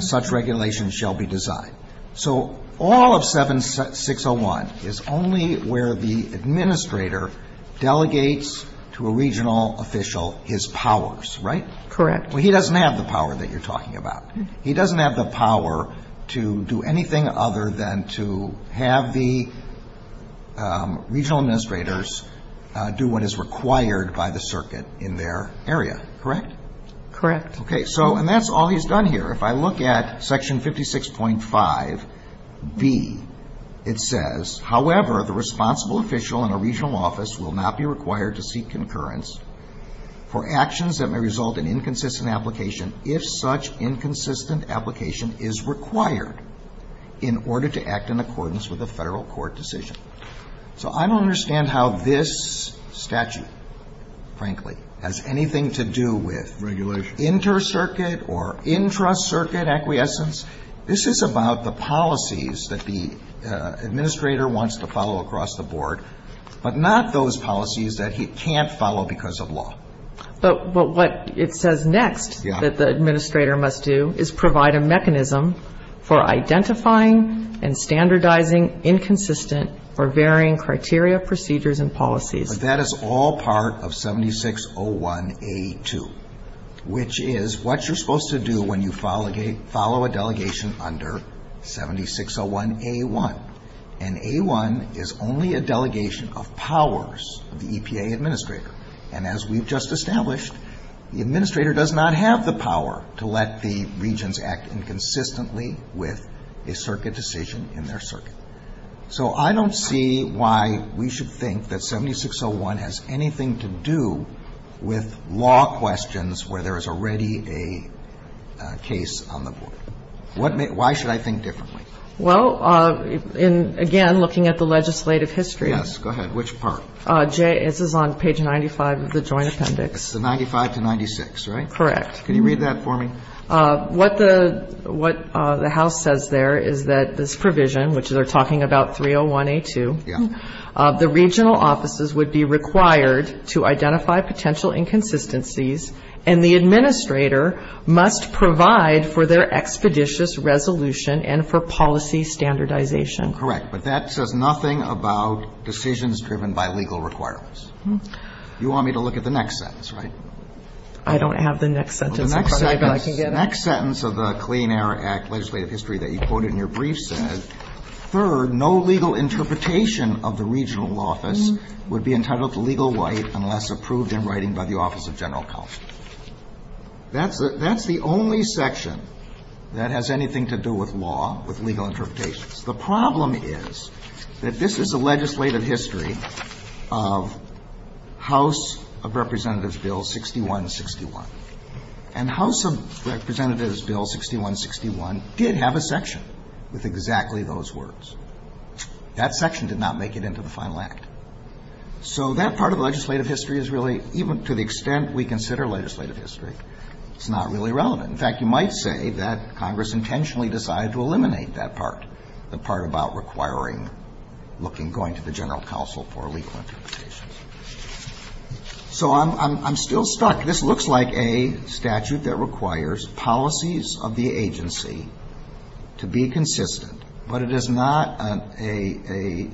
such regulations shall be designed. So, all of 7601 is only where the administrator delegates to a regional official his powers, right? Correct. Well, he doesn't have the power that you're talking about. He doesn't have the power to do anything other than to have the regional administrators do what is required by the circuit in their area, correct? Correct. Okay, so, and that's all he's done here. If I look at Section 56.5B, it says... Inter-circuit or intra-circuit acquiescence. This is about the policies that the administrator wants to follow across the board, but not those policies that he can't follow because of law. But what it says next that the administrator must do is provide a mechanism for identifying and standardizing inconsistent or varying criteria procedures and policies. But that is all part of 7601A2, which is what you're supposed to do when you follow a delegation under 7601A1. And A1 is only a delegation of powers of the EPA administrator. And as we've just established, the administrator does not have the power to let the regions act inconsistently with a circuit decision in their circuit. So, I don't see why we should think that 7601 has anything to do with law questions where there is already a case on the board. Why should I think differently? Well, again, looking at the legislative history... Yes, go ahead. Which part? Jay, this is on page 95 of the Joint Appendix. It's the 95 to 96, right? Correct. Can you read that for me? What the House says there is that this provision, which they're talking about 301A2... Yeah. The regional offices would be required to identify potential inconsistencies and the administrator must provide for their expeditious resolution and for policy standardization. Correct. But that says nothing about decisions driven by legal requirements. You want me to look at the next sentence, right? I don't have the next sentence. The next sentence of the Clean Air Act legislative history that you quoted in your brief sentence... Third, no legal interpretation of the regional office would be entitled to legal right unless approved in writing by the Office of General Policy. That's the only section that has anything to do with law, with legal interpretations. The problem is that this is the legislative history of House of Representatives Bill 6161. And House of Representatives Bill 6161 did have a section with exactly those words. That section did not make it into the final act. So, that part of legislative history is really, even to the extent we consider legislative history, it's not really relevant. In fact, you might say that Congress intentionally decided to eliminate that part. The part about requiring looking... going to the General Counsel for legal interpretations. So, I'm still stuck. This looks like a statute that requires policies of the agency to be consistent. But, it is not a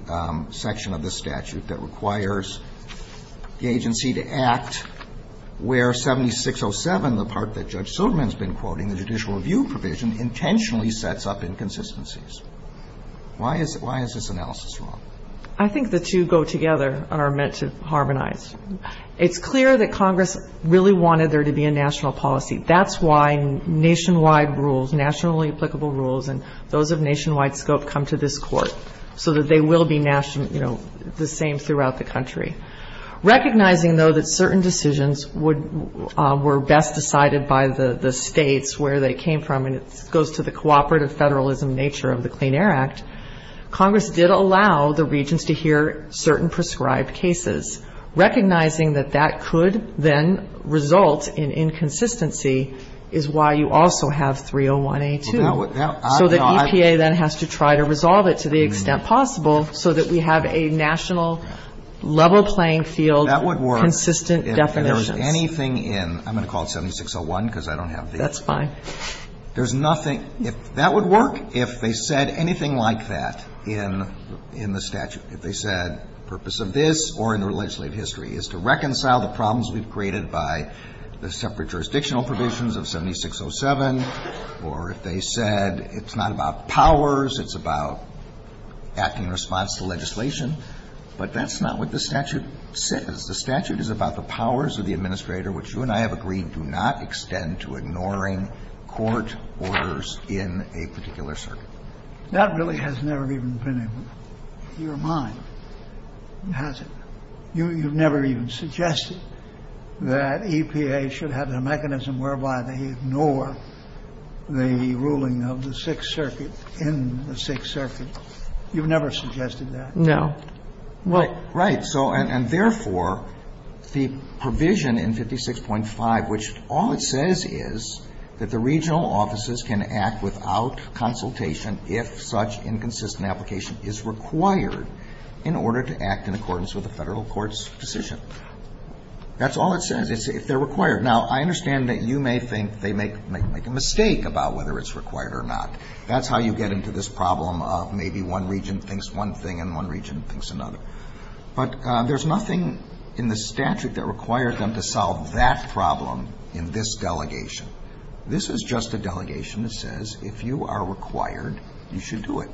section of the statute that requires the agency to act where 7607, the part that Judge Suderman has been quoting... the judicial review provision, intentionally sets up inconsistencies. Why is this analysis wrong? I think the two go together and are meant to harmonize. It's clear that Congress really wanted there to be a national policy. That's why nationwide rules, nationally applicable rules and those of nationwide scope come to this court. So, that they will be national, you know, the same throughout the country. Recognizing though that certain decisions would... were best decided by the states where they came from... and it goes to the cooperative federalism nature of the Clean Air Act. Congress did allow the regions to hear certain prescribed cases. Recognizing that that could then result in inconsistency is why you also have 301A2. So, the EPA then has to try to resolve it to the extent possible, so that we have a national level playing field, consistent definition. That would work if there's anything in... I'm going to call it 7601 because I don't have the... That's fine. There's nothing... that would work if they said anything like that in the statute. If they said the purpose of this or in the legislative history is to reconcile the problems we've created by the separate jurisdictional provisions of 7607. Or, if they said it's not about powers, it's about acting in response to legislation. But, that's not what the statute says. The statute is about the powers of the administrator, which you and I have agreed do not extend to ignoring court orders in a particular circuit. That really has never even been in your mind, has it? You've never even suggested that EPA should have a mechanism whereby they ignore the ruling of the Sixth Circuit in the Sixth Circuit. You've never suggested that. No. Right. So, and therefore, the provision in 56.5, which all it says is that the regional offices can act without consultation if such inconsistent application is required in order to act in accordance with a federal court's decision. That's all it says is if they're required. Now, I understand that you may think they may make a mistake about whether it's required or not. That's how you get into this problem of maybe one region thinks one thing and one region thinks another. But, there's nothing in the statute that requires them to solve that problem in this delegation. This is just a delegation that says if you are required, you should do it.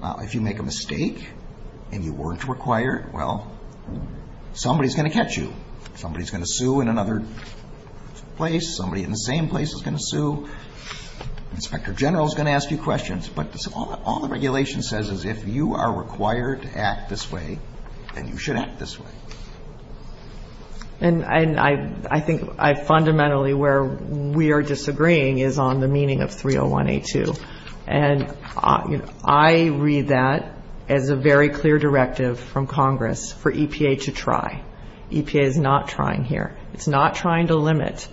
Now, if you make a mistake and you weren't required, well, somebody's going to catch you. Somebody's going to sue in another place. Somebody in the same place is going to sue. Inspector General is going to ask you questions. But, all the regulation says is if you are required to act this way, then you should act this way. And I think fundamentally where we are disagreeing is on the meaning of 301A2. And I read that as a very clear directive from Congress for EPA to try. EPA is not trying here. It's not trying to limit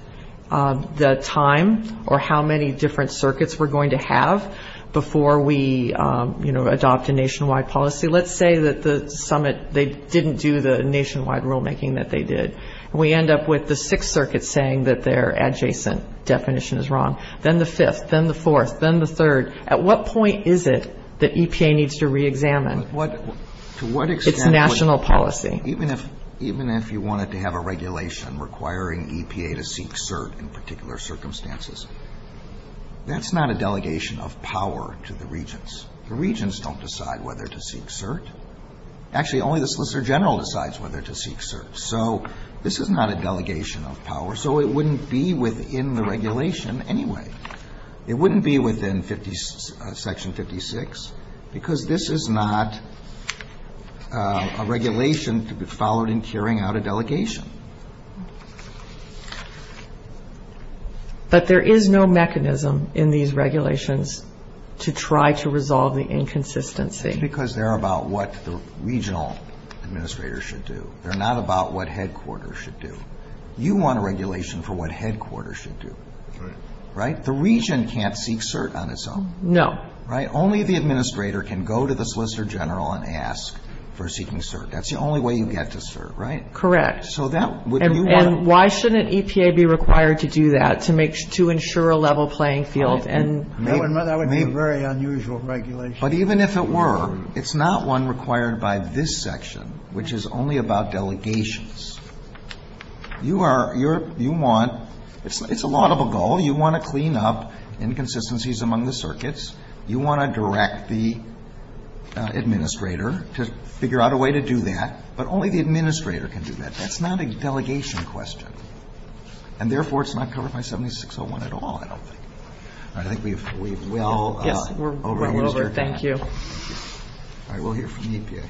the time or how many different circuits we're going to have before we, you know, adopt a nationwide policy. Let's say that the summit, they didn't do the nationwide rulemaking that they did. We end up with the Sixth Circuit saying that their adjacent definition is wrong. Then the Fifth. Then the Fourth. Then the Third. At what point is it that EPA needs to reexamine? It's national policy. Even if you wanted to have a regulation requiring EPA to seek cert in particular circumstances, that's not a delegation of power to the Regents. The Regents don't decide whether to seek cert. Actually, only the Solicitor General decides whether to seek cert. So, this is not a delegation of power. So, it wouldn't be within the regulation anyway. It wouldn't be within Section 56 because this is not a regulation to be followed in carrying out a delegation. But there is no mechanism in these regulations to try to resolve the inconsistency. That's because they're about what the regional administrators should do. They're not about what headquarters should do. You want a regulation for what headquarters should do. Right? The Regent can't seek cert on its own. No. Right? Only the administrator can go to the Solicitor General and ask for seeking cert. That's the only way you get to cert, right? Correct. And why shouldn't EPA be required to do that to ensure a level playing field? That would be a very unusual regulation. But even if it were, it's not one required by this section, which is only about delegations. It's a lot of a goal. You want to clean up inconsistencies among the circuits. You want to direct the administrator to figure out a way to do that. But only the administrator can do that. That's not a delegation question. And, therefore, it's not covered by 7601 at all, I don't think. All right. I think we will. Yeah. We're over. Thank you. All right. We'll hear from the EPA.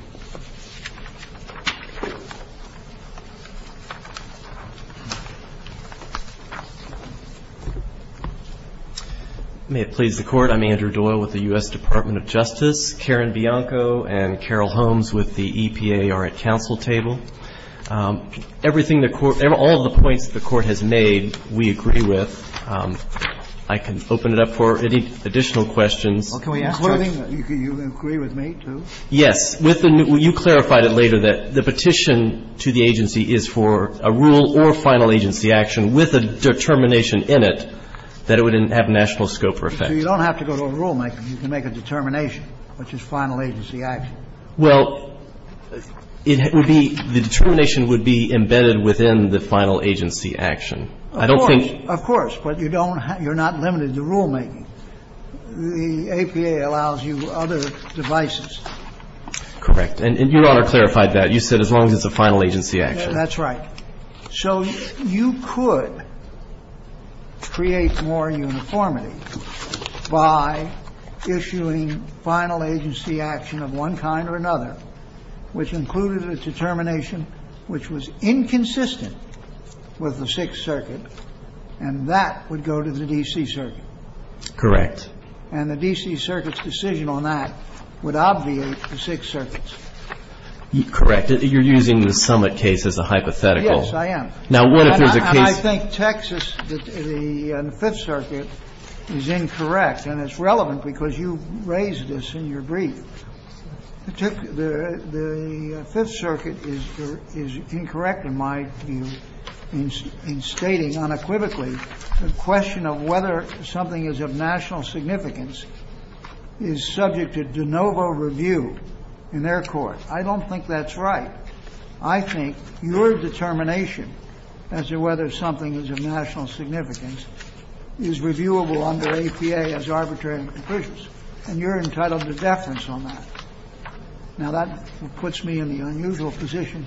May it please the Court. I'm Andrew Doyle with the U.S. Department of Justice. Karen Bianco and Carol Holmes with the EPA are at council table. Everything the Court, all the points the Court has made, we agree with. I can open it up for any additional questions. You agree with me, too? Yes. You clarified it later that the petition to the agency is for a rule or final agency action with a determination in it that it would have national scope or effect. So you don't have to go to a rulemaker. You can make a determination, which is final agency action. Well, the determination would be embedded within the final agency action. Of course. But you're not limited to rulemaking. The EPA allows you other devices. Correct. And Your Honor clarified that. You said as long as it's a final agency action. That's right. So you could create more uniformity by issuing final agency action of one kind or another, which included a determination which was inconsistent with the Sixth Circuit. And that would go to the D.C. Circuit. Correct. And the D.C. Circuit's decision on that would obviate the Sixth Circuit's. Correct. You're using the summit case as a hypothetical. Yes, I am. Now, what if there's a case. I think Texas and the Fifth Circuit is incorrect. And it's relevant because you raised this in your brief. The Fifth Circuit is incorrect, in my view, in stating unequivocally the question of whether something is of national significance is subject to de novo review in their court. I don't think that's right. I think your determination as to whether something is of national significance is reviewable under APA as arbitrary and proficient. And you're entitled to deference on that. Now, that puts me in the unusual position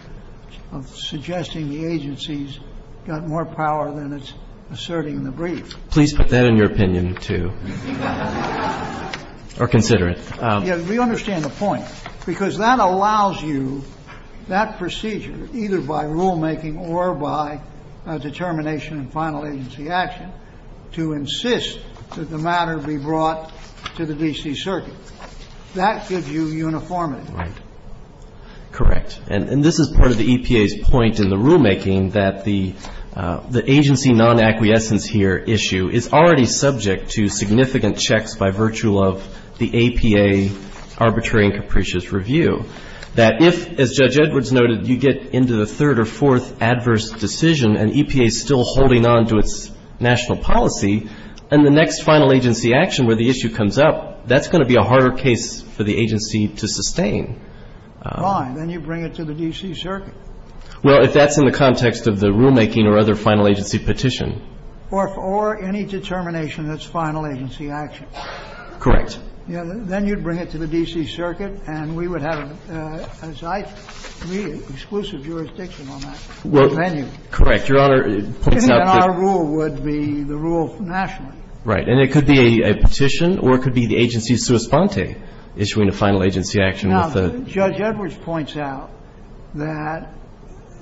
of suggesting the agency's got more power than it's asserting in the brief. Please put that in your opinion, too, or consider it. We understand the point, because that allows you, that procedure, either by rulemaking or by determination of final agency action, to insist that the matter be brought to the D.C. Circuit. That gives you uniformity. Correct. And this is part of the EPA's point in the rulemaking, that the agency non-acquiescence here issue is already subject to significant checks by virtue of the APA arbitrary and capricious review. That if, as Judge Edwards noted, you get into the third or fourth adverse decision and EPA is still holding on to its national policy, and the next final agency action where the issue comes up, that's going to be a harder case for the agency to sustain. Fine. Then you bring it to the D.C. Circuit. Well, if that's in the context of the rulemaking or other final agency petition. Or any determination that's final agency action. Correct. Then you'd bring it to the D.C. Circuit, and we would have, as I see it, exclusive jurisdiction on that venue. Correct, Your Honor. Then our rule would be the rule nationally. Right. And it could be a petition, or it could be the agency's sua sponte, issuing a final agency action. Now, Judge Edwards points out that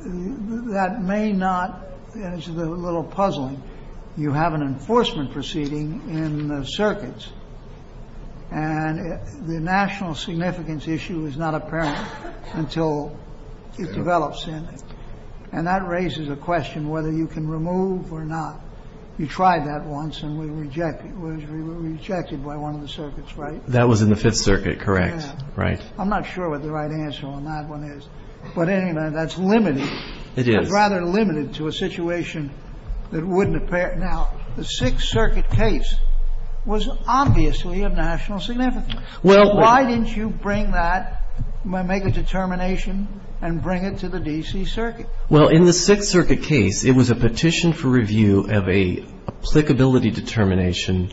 that may not, as a little puzzle, you have an enforcement proceeding in the circuits. And the national significance issue is not apparent until it develops in it. And that raises a question whether you can remove or not. You tried that once, and it was rejected by one of the circuits, right? That was in the Fifth Circuit, correct. Right. I'm not sure what the right answer on that one is. But anyway, that's limited. It is. It's rather limited to a situation that wouldn't appear. Now, the Sixth Circuit case was obviously of national significance. Why didn't you bring that, make a determination, and bring it to the D.C. Circuit? Well, in the Sixth Circuit case, it was a petition for review of a applicability determination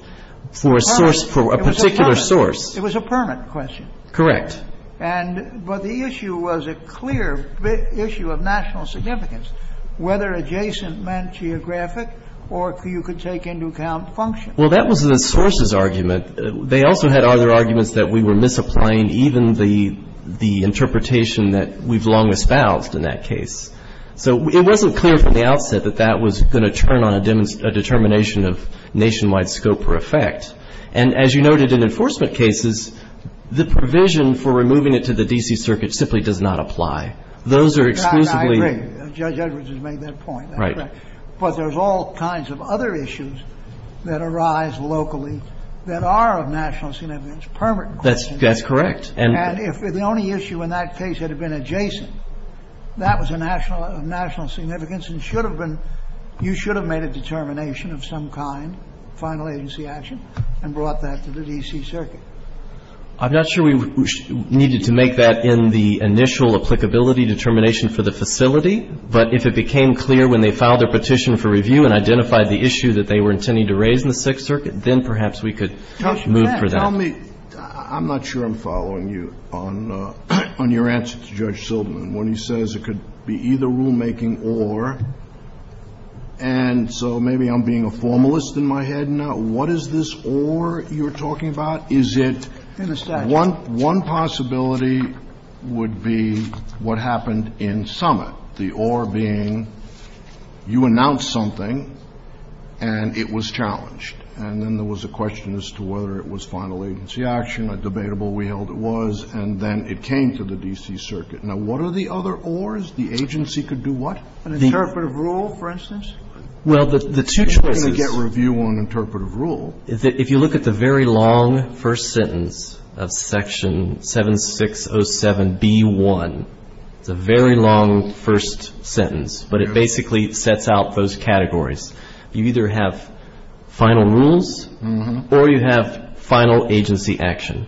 for a particular source. It was a permit question. Correct. But the issue was a clear issue of national significance, whether adjacent meant geographic or if you could take into account function. Well, that was the source's argument. They also had other arguments that we were misapplying even the interpretation that we've long espoused in that case. So it wasn't clear from the outset that that was going to turn on a determination of nationwide scope for effect. And as you noted, in enforcement cases, the provision for removing it to the D.C. Circuit simply does not apply. Those are exclusively- I agree. Judge Edwards has made that point. Right. But there's all kinds of other issues that arise locally that are of national significance, permit questions. That's correct. And if the only issue in that case had been adjacent, that was of national significance and you should have made a determination of some kind, final agency action, and brought that to the D.C. Circuit. I'm not sure we needed to make that in the initial applicability determination for the facility. But if it became clear when they filed their petition for review and identified the issue that they were intending to raise in the Sixth Circuit, then perhaps we could move for that. Judge, tell me, I'm not sure I'm following you on your answer to Judge Silverman. When he says it could be either rulemaking or, and so maybe I'm being a formalist in my head now. What is this or you're talking about? Is it- The statute. One possibility would be what happened in Summit. The or being you announced something and it was challenged. And then there was a question as to whether it was final agency action. A debatable, we held it was. And then it came to the D.C. Circuit. Now, what are the other ors? The agency could do what? An interpretive rule, for instance? Well, the two- We're going to get review on interpretive rule. If you look at the very long first sentence of section 7607B1, the very long first sentence, but it basically sets out those categories. You either have final rules or you have final agency action.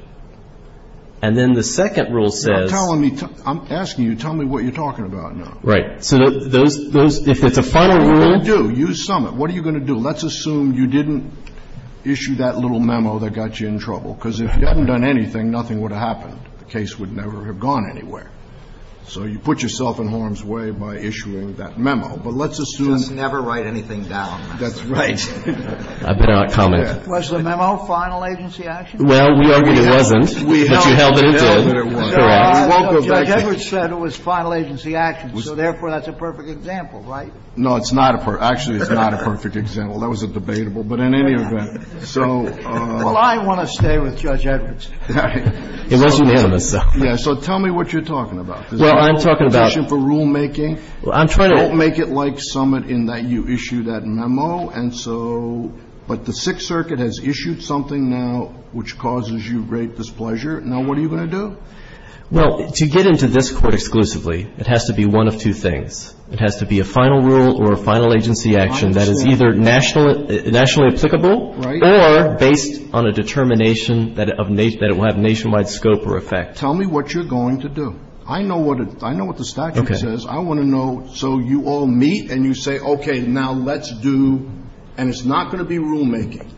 And then the second rule says- You're not telling me, I'm asking you, tell me what you're talking about now. Right. So those, if it's a final rule- You do. Use Summit. What are you going to do? Well, let's assume you didn't issue that little memo that got you in trouble. Because if you hadn't done anything, nothing would have happened. The case would never have gone anywhere. So you put yourself in harm's way by issuing that memo. But let's assume- Just never write anything down. That's right. I'm not commenting. Was the memo final agency action? Well, we already have it. We already have it. But we held it was. I won't go back to- Judge Edwards said it was final agency action. So therefore, that's a perfect example, right? No, it's not a perfect- Well, that was debatable. But in any event, so- Well, I want to stay with Judge Edwards. It wasn't unanimous, though. Yeah, so tell me what you're talking about. Well, I'm talking about- Is it a question for rulemaking? Well, I'm trying to- Don't make it like Summit in that you issue that memo. And so- But the Sixth Circuit has issued something now which causes you great displeasure. Now, what are you going to do? Well, to get into this court exclusively, it has to be one of two things. It has to be a final rule or a final agency action that is either nationally applicable or based on a determination that it will have nationwide scope or effect. Tell me what you're going to do. I know what the statute says. I want to know. So you all meet and you say, okay, now let's do- and it's not going to be rulemaking.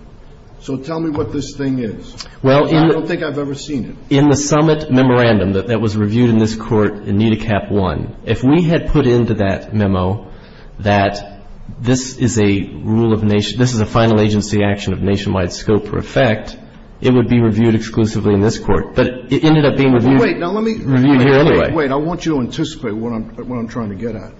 So tell me what this thing is. I don't think I've ever seen it. In the Summit memorandum that was reviewed in this court in NEDACAP 1, if we had put into that memo that this is a final agency action of nationwide scope or effect, it would be reviewed exclusively in this court. But it ended up being reviewed here anyway. Wait, I want you to anticipate what I'm trying to get at.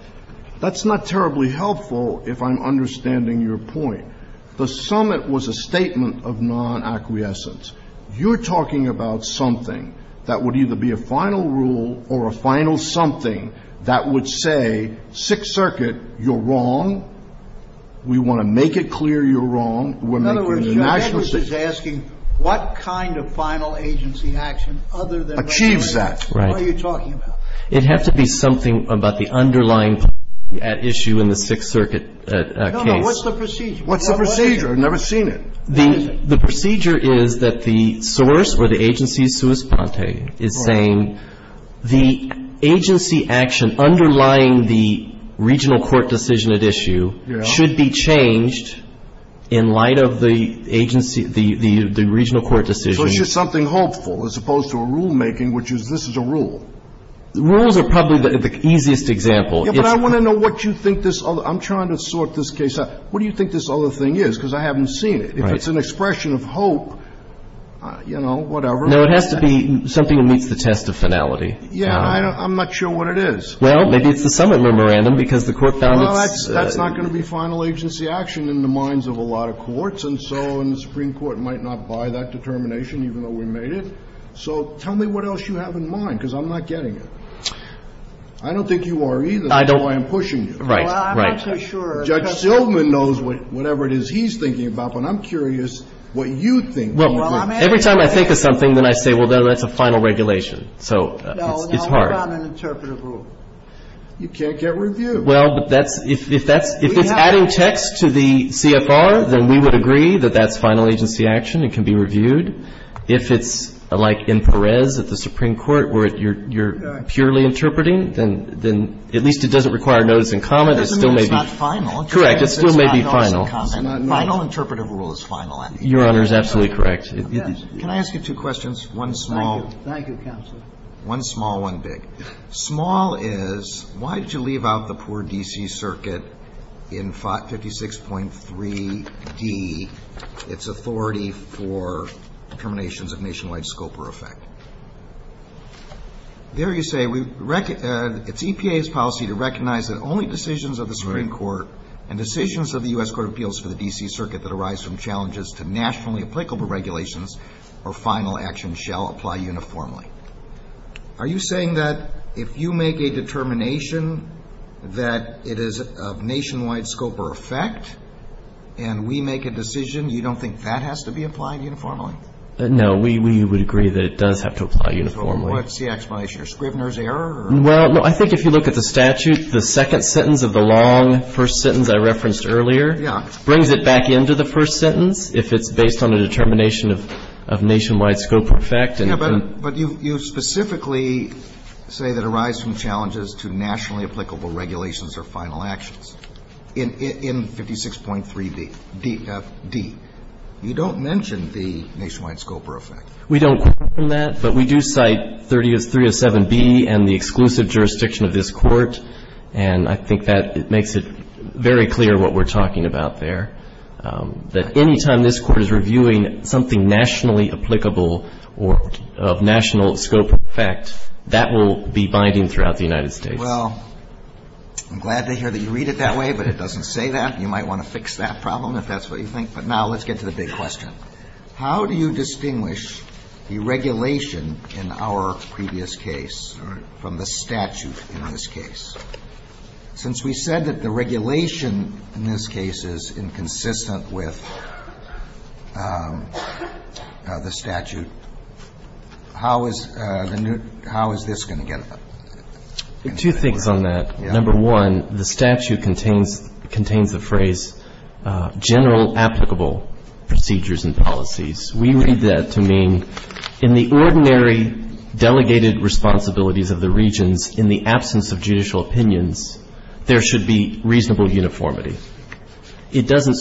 That's not terribly helpful if I'm understanding your point. The Summit was a statement of non-acquiescence. You're talking about something that would either be a final rule or a final something that would say, Sixth Circuit, you're wrong. We want to make it clear you're wrong. In other words, Davis is asking what kind of final agency action other than- Achieves that. Right. What are you talking about? It has to be something about the underlying issue in the Sixth Circuit case. No, no. What's the procedure? What's the procedure? I've never seen it. The procedure is that the source or the agency's sous-pente is saying the agency action underlying the regional court decision at issue should be changed in light of the regional court decision. So it's just something hopeful as opposed to a rulemaking which is, this is a rule. Rules are probably the easiest example. But I want to know what you think this other- I'm trying to sort this case out. What do you think this other thing is? Because I haven't seen it. If it's an expression of hope, you know, whatever. No, it has to be something that meets the test of finality. Yeah, I'm not sure what it is. Well, maybe it's the summit memorandum because the court found- No, that's not going to be final agency action in the minds of a lot of courts, and so the Supreme Court might not buy that determination even though we made it. So tell me what else you have in mind because I'm not getting it. I don't think you are either. I don't- That's why I'm pushing you. Right, right. I'm not so sure. Judge Sillman knows whatever it is he's thinking about, but I'm curious what you think. Well, every time I think of something, then I say, well, that's a final regulation. So it's hard. No, it's not an interpretive rule. You can't get reviewed. Well, if it's adding text to the CFR, then we would agree that that's final agency action. It can be reviewed. If it's like in Perez at the Supreme Court where you're purely interpreting, then at least it doesn't require notice and comment. It doesn't mean it's not final. Correct. It still may be final. Final interpretive rule is final. Your Honor is absolutely correct. Can I ask you two questions? One small- Thank you, counsel. One small, one big. Small is, why did you leave out the poor D.C. Circuit in 56.3d, its authority for determinations of nationwide scope or effect? There you say, it's EPA's policy to recognize that only decisions of the Supreme Court and decisions of the U.S. Court of Appeals for the D.C. Circuit that arise from challenges to nationally applicable regulations or final action shall apply uniformly. Are you saying that if you make a determination that it is of nationwide scope or effect, and we make a decision, you don't think that has to be applied uniformly? No, we would agree that it does have to apply uniformly. So what's the explanation? A Scribner's error or- Well, I think if you look at the statute, the second sentence of the long first sentence I referenced earlier- Yeah. Brings it back into the first sentence if it's based on a determination of nationwide scope or effect and- Yeah, but you specifically say that arise from challenges to nationally applicable regulations or final actions in 56.3b, D.F.D. You don't mention the nationwide scope or effect. We don't question that, but we do cite 30.7b and the exclusive jurisdiction of this Court, and I think that makes it very clear what we're talking about there, that any time this Court is reviewing something nationally applicable or of national scope or effect, that will be binding throughout the United States. Well, I'm glad to hear that you read it that way, but it doesn't say that. You might want to fix that problem if that's what you think. But now let's get to the big question. How do you distinguish the regulation in our previous case from the statute in this case? Since we said that the regulation in this case is inconsistent with the statute, how is this going to get- Two things on that. Number one, the statute contains the phrase general applicable procedures and policies. We read that to mean in the ordinary delegated responsibilities of the regions, in the absence of judicial opinions, there should be reasonable uniformity. It doesn't-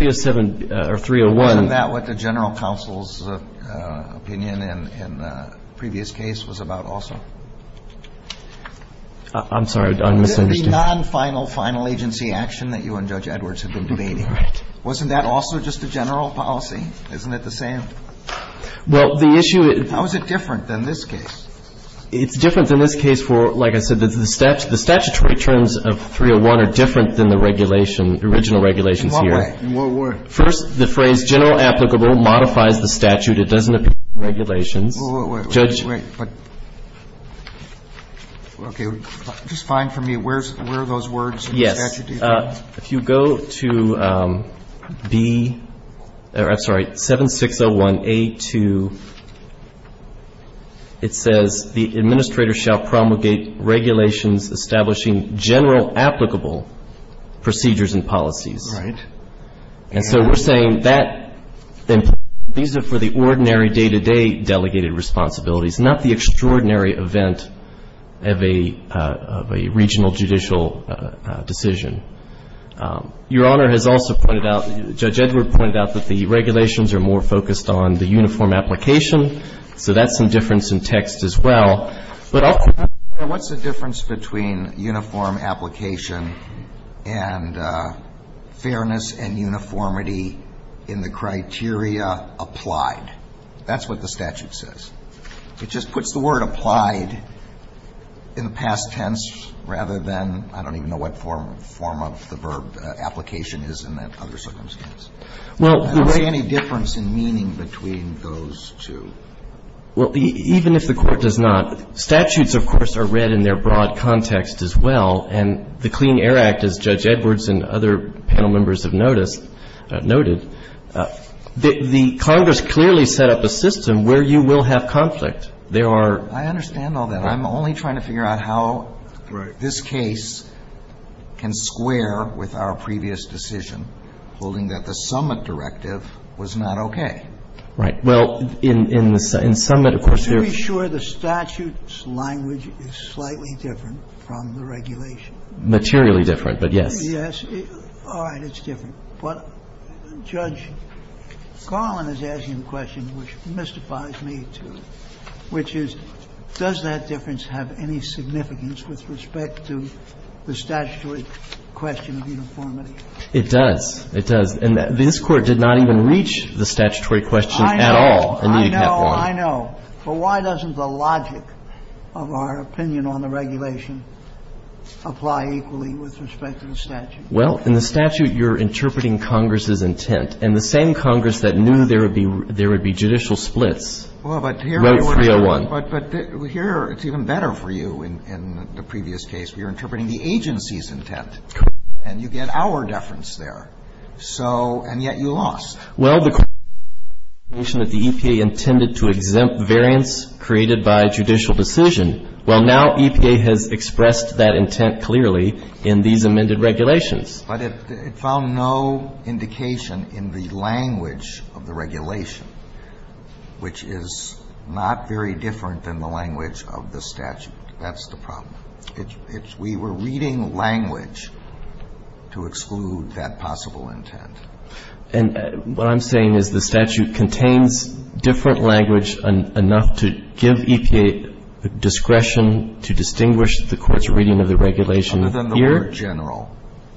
Isn't that what the general counsel's opinion in the previous case was about also? I'm sorry, I'm misunderstanding. The non-final, final agency action that you and Judge Edwards have been debating. Wasn't that also just a general policy? Isn't it the same? Well, the issue is- How is it different than this case? It's different than this case for, like I said, the statutory terms of 301 are different than the regulation, the original regulation here. First, the phrase general applicable modifies the statute. It doesn't appear in the regulation. Wait, wait, wait. Okay, just fine for me. Where are those words in the statute? Yes. If you go to 7601A2, it says the administrator shall promulgate regulations establishing general applicable procedures and policies. All right. And so we're saying that these are for the ordinary day-to-day delegated responsibilities, not the extraordinary event of a regional judicial decision. Your Honor has also pointed out, Judge Edwards pointed out that the regulations are more focused on the uniform application, so that's some difference in text as well. Your Honor, what's the difference between uniform application and fairness and uniformity in the criteria applied? That's what the statute says. It just puts the word applied in the past tense rather than I don't even know what form of the verb application is in that circumstance. Is there any difference in meaning between those two? Well, even if the Court does not, statutes, of course, are read in their broad context as well, and the Clean Air Act, as Judge Edwards and other panel members have noted, the Congress clearly set up a system where you will have conflict. I understand all that. I'm only trying to figure out how this case can square with our previous decision holding that the summit directive was not okay. Right. Well, in the summit, of course, there's – Are you sure the statute's language is slightly different from the regulation? Materially different, but yes. Yes. All right. It's different. Judge Garland is asking a question which mystifies me, too, which is does that difference have any significance with respect to the statutory question of uniformity? It does. It does. And this Court did not even reach the statutory question at all. I know. I know. I know. But why doesn't the logic of our opinion on the regulation apply equally with respect to the statute? Well, in the statute, you're interpreting Congress's intent, and the same Congress that knew there would be judicial splits wrote 301. But here it's even better for you in the previous case. You're interpreting the agency's intent, and you get our deference there. So – and yet you lost. Well, the –– that the EPA intended to exempt variants created by judicial decision. Well, now EPA has expressed that intent clearly in these amended regulations. But it found no indication in the language of the regulation, which is not very different than the language of the statute. That's the problem. It's – it's – we were reading language to exclude that possible intent. And what I'm saying is the statute contains different language enough to give EPA discretion to distinguish the Court's reading of the regulation here. Other than the word general,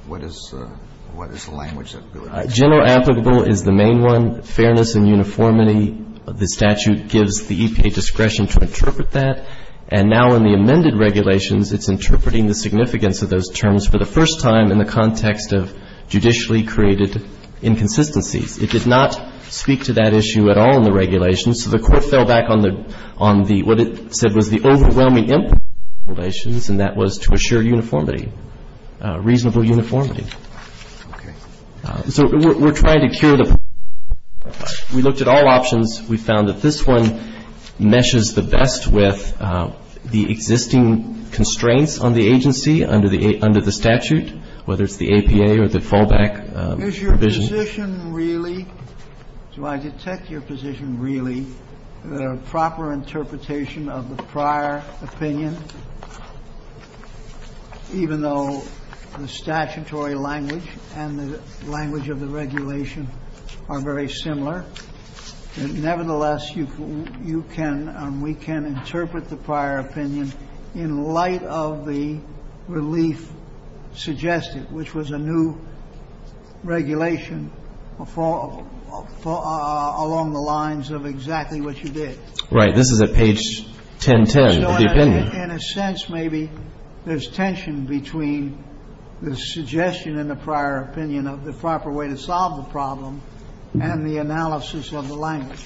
what is the – what is the language that builds it? General applicable is the main one. Fairness and uniformity of the statute gives the EPA discretion to interpret that. And now in the amended regulations, it's interpreting the significance of those terms for the first time in the context of judicially created inconsistency. It did not speak to that issue at all in the regulations. So the Court fell back on the – on the – what it said was the overwhelming impact of the regulations, and that was to assure uniformity, reasonable uniformity. Okay. So we're trying to cure the – we looked at all options. We found that this one meshes the best with the existing constraints on the agency under the – under the statute, whether it's the APA or the fallback provision. Is your position really – do I detect your position really, the proper interpretation of the prior opinion, even though the statutory language and the language of the regulation are very similar? Nevertheless, you can – we can interpret the prior opinion in light of the relief suggested, which was a new regulation for – along the lines of exactly what you did. Right. This is at page 1010 of the opinion. So in a sense, maybe there's tension between the suggestion in the prior opinion of the proper way to solve the problem and the analysis of the language.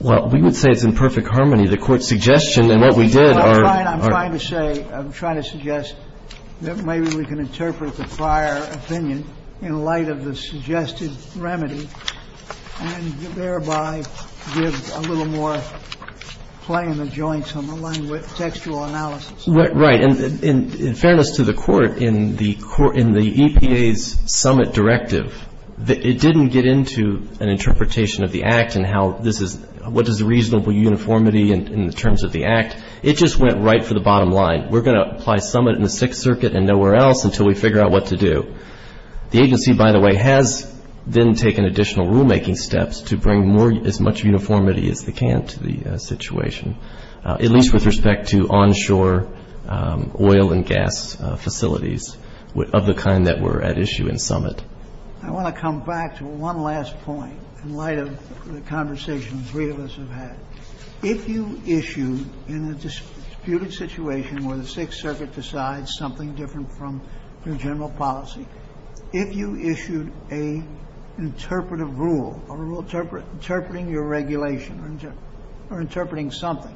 Well, we would say it's in perfect harmony. The Court's suggestion and what we did are – All right. I'm trying to say – I'm trying to suggest that maybe we can interpret the prior opinion in light of the suggested remedy and thereby give a little more play in the joints on the textual analysis. Right. In fairness to the Court, in the EPA's summit directive, it didn't get into an interpretation of the Act and how this is – what is reasonable uniformity in terms of the Act. It just went right to the bottom line. We're going to apply summit in the Sixth Circuit and nowhere else until we figure out what to do. The agency, by the way, has then taken additional rulemaking steps to bring as much uniformity as they can to the situation, at least with respect to onshore oil and gas facilities of the kind that were at issue in summit. I want to come back to one last point in light of the conversation the three of us have had. If you issue in a disputed situation where the Sixth Circuit decides something different from the general policy, if you issued an interpretive rule, a rule interpreting your regulation or interpreting summit,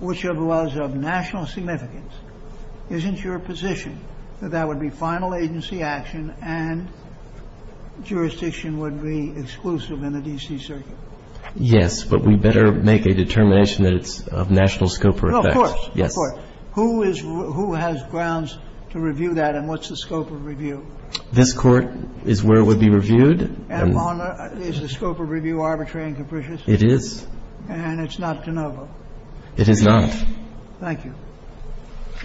which was of national significance, isn't your position that that would be final agency action and jurisdiction would be exclusive in the D.C. Circuit? Yes, but we better make a determination that it's of national scope for effect. Of course, of course. Who is – who has grounds to review that and what's the scope of review? This court is where it would be reviewed. And is the scope of review arbitrary and capricious? It is. And it's not de novo? It is not. Thank you.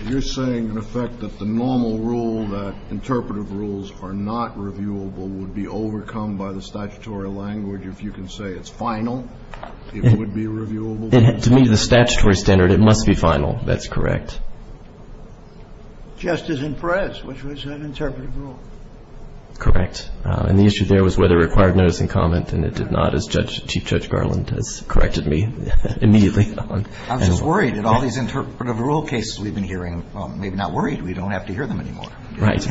You're saying, in effect, that the normal rule, that interpretive rules are not reviewable, would be overcome by the statutory language if you can say it's final, it would be reviewable? To me, the statutory standard, it must be final. That's correct. Justice in press, which was an interpretive rule. Correct. And the issue there was whether it required notice and comment, and it did not, as Chief Judge Garland has corrected me immediately on. I'm just worried that all these interpretive rule cases we've been hearing, well, maybe not worried. We don't have to hear them anymore. Right.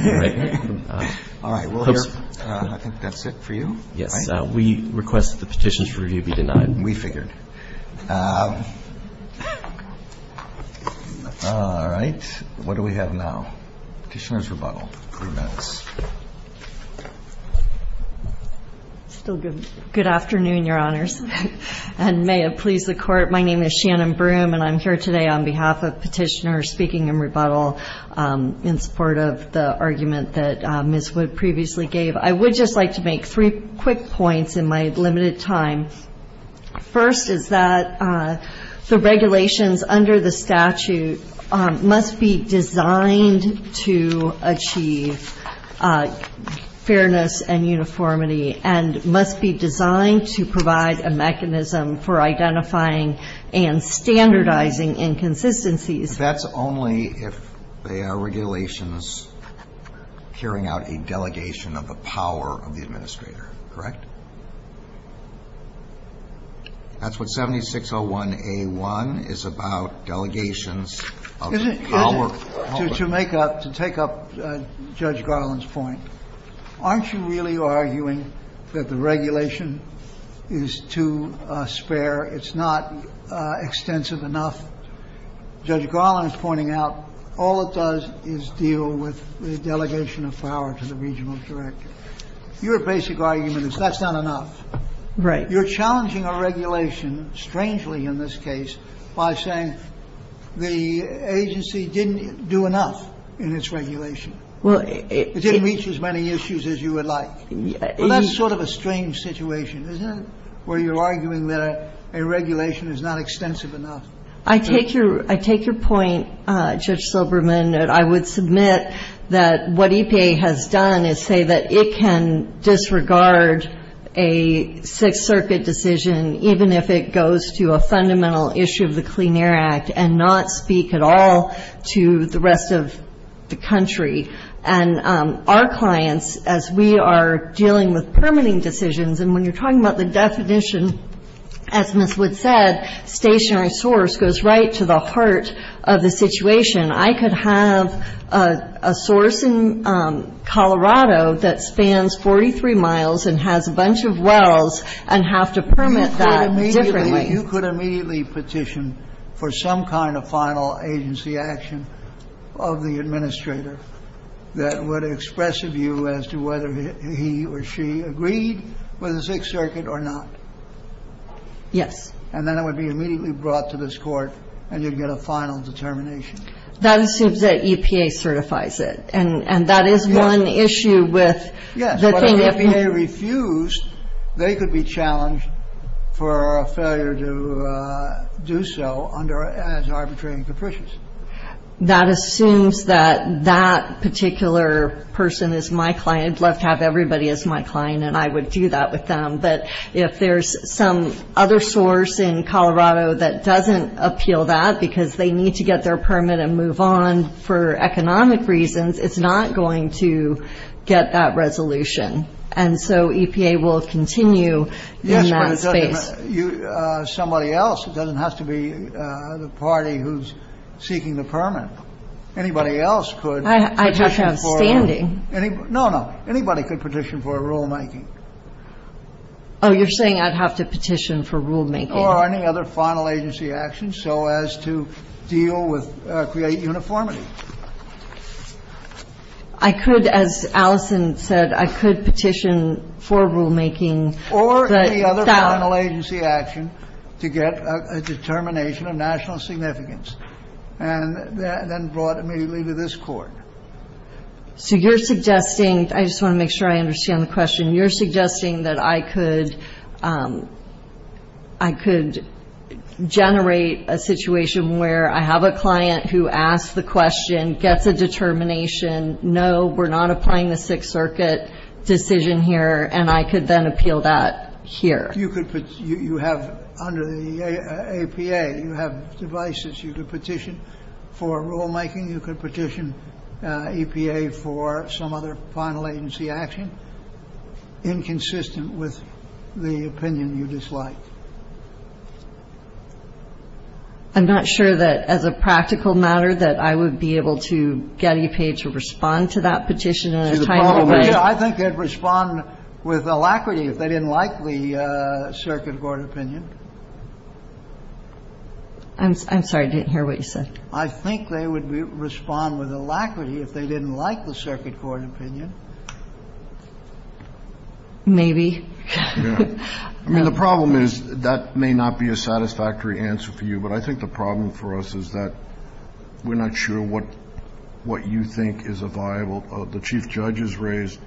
All right. Well, I think that's it for you. We request that the petitions for review be denied. We figured. All right. What do we have now? Petitioner's rebuttal. Good afternoon, Your Honors. And may it please the Court, my name is Shannon Broome, and I'm here today on behalf of petitioners speaking in rebuttal in support of the argument that Ms. Wood previously gave. I would just like to make three quick points in my limited time. First is that the regulations under the statute must be designed to achieve fairness and uniformity and must be designed to provide a mechanism for identifying and standardizing inconsistencies. and standardizing inconsistencies. That's only if there are regulations carrying out a delegation of the power of the administrator. Correct. That's what 7601A1 is about, delegations of power. To take up Judge Garland's point, aren't you really arguing that the regulation is too spare? It's not extensive enough. Judge Garland is pointing out all it does is deal with the delegation of power to the regional director. Your basic argument is that's not enough. Right. You're challenging a regulation, strangely in this case, by saying the agency didn't do enough in its regulation. It didn't reach as many issues as you would like. And that's sort of a strange situation, isn't it, where you're arguing that a regulation is not extensive enough? I take your point, Judge Silberman, that I would submit that what EPA has done is say that it can disregard a Sixth Circuit decision, even if it goes to a fundamental issue of the Clean Air Act and not speak at all to the rest of the country. And our clients, as we are dealing with permitting decisions, and when you're talking about the definition, as Ms. Wood said, stationary source goes right to the heart of the situation. I could have a source in Colorado that spans 43 miles and has a bunch of wells and have to permit that differently. You could immediately petition for some kind of final agency action of the administrator that would express a view as to whether he or she agreed with the Sixth Circuit or not. Yes. And then it would be immediately brought to this court, and you'd get a final determination. That assumes that EPA certifies it, and that is one issue with the Clean Air Act. Yes, but if EPA refused, they could be challenged for a failure to do so as arbitrary and capricious. That assumes that that particular person is my client. I'd love to have everybody as my client, and I would do that with them. But if there's some other source in Colorado that doesn't appeal that because they need to get their permit and move on for economic reasons, it's not going to get that resolution. And so EPA will continue in that space. Somebody else. It doesn't have to be the party who's seeking the permit. Anybody else could petition for a rulemaking. Oh, you're saying I'd have to petition for rulemaking? Or any other final agency action so as to deal with or create uniformity. I could, as Allison said, I could petition for rulemaking. Or any other final agency action to get a determination of national significance, and then brought immediately to this court. So you're suggesting, I just want to make sure I understand the question, you're suggesting that I could generate a situation where I have a client who asks the question, gets a determination. No, we're not applying the Sixth Circuit decision here. And I could then appeal that here. You could. You have under the EPA, you have devices. You could petition for rulemaking. You could petition EPA for some other final agency action inconsistent with the opinion you dislike. I'm not sure that as a practical matter that I would be able to get EPA to respond to that petition in a timely way. I think they'd respond with alacrity if they didn't like the Circuit Court opinion. I'm sorry, I didn't hear what you said. I think they would respond with alacrity if they didn't like the Circuit Court opinion. Maybe. Yeah. I mean, the problem is that may not be a satisfactory answer for you. But I think the problem for us is that we're not sure what you think is viable. The Chief Judge has raised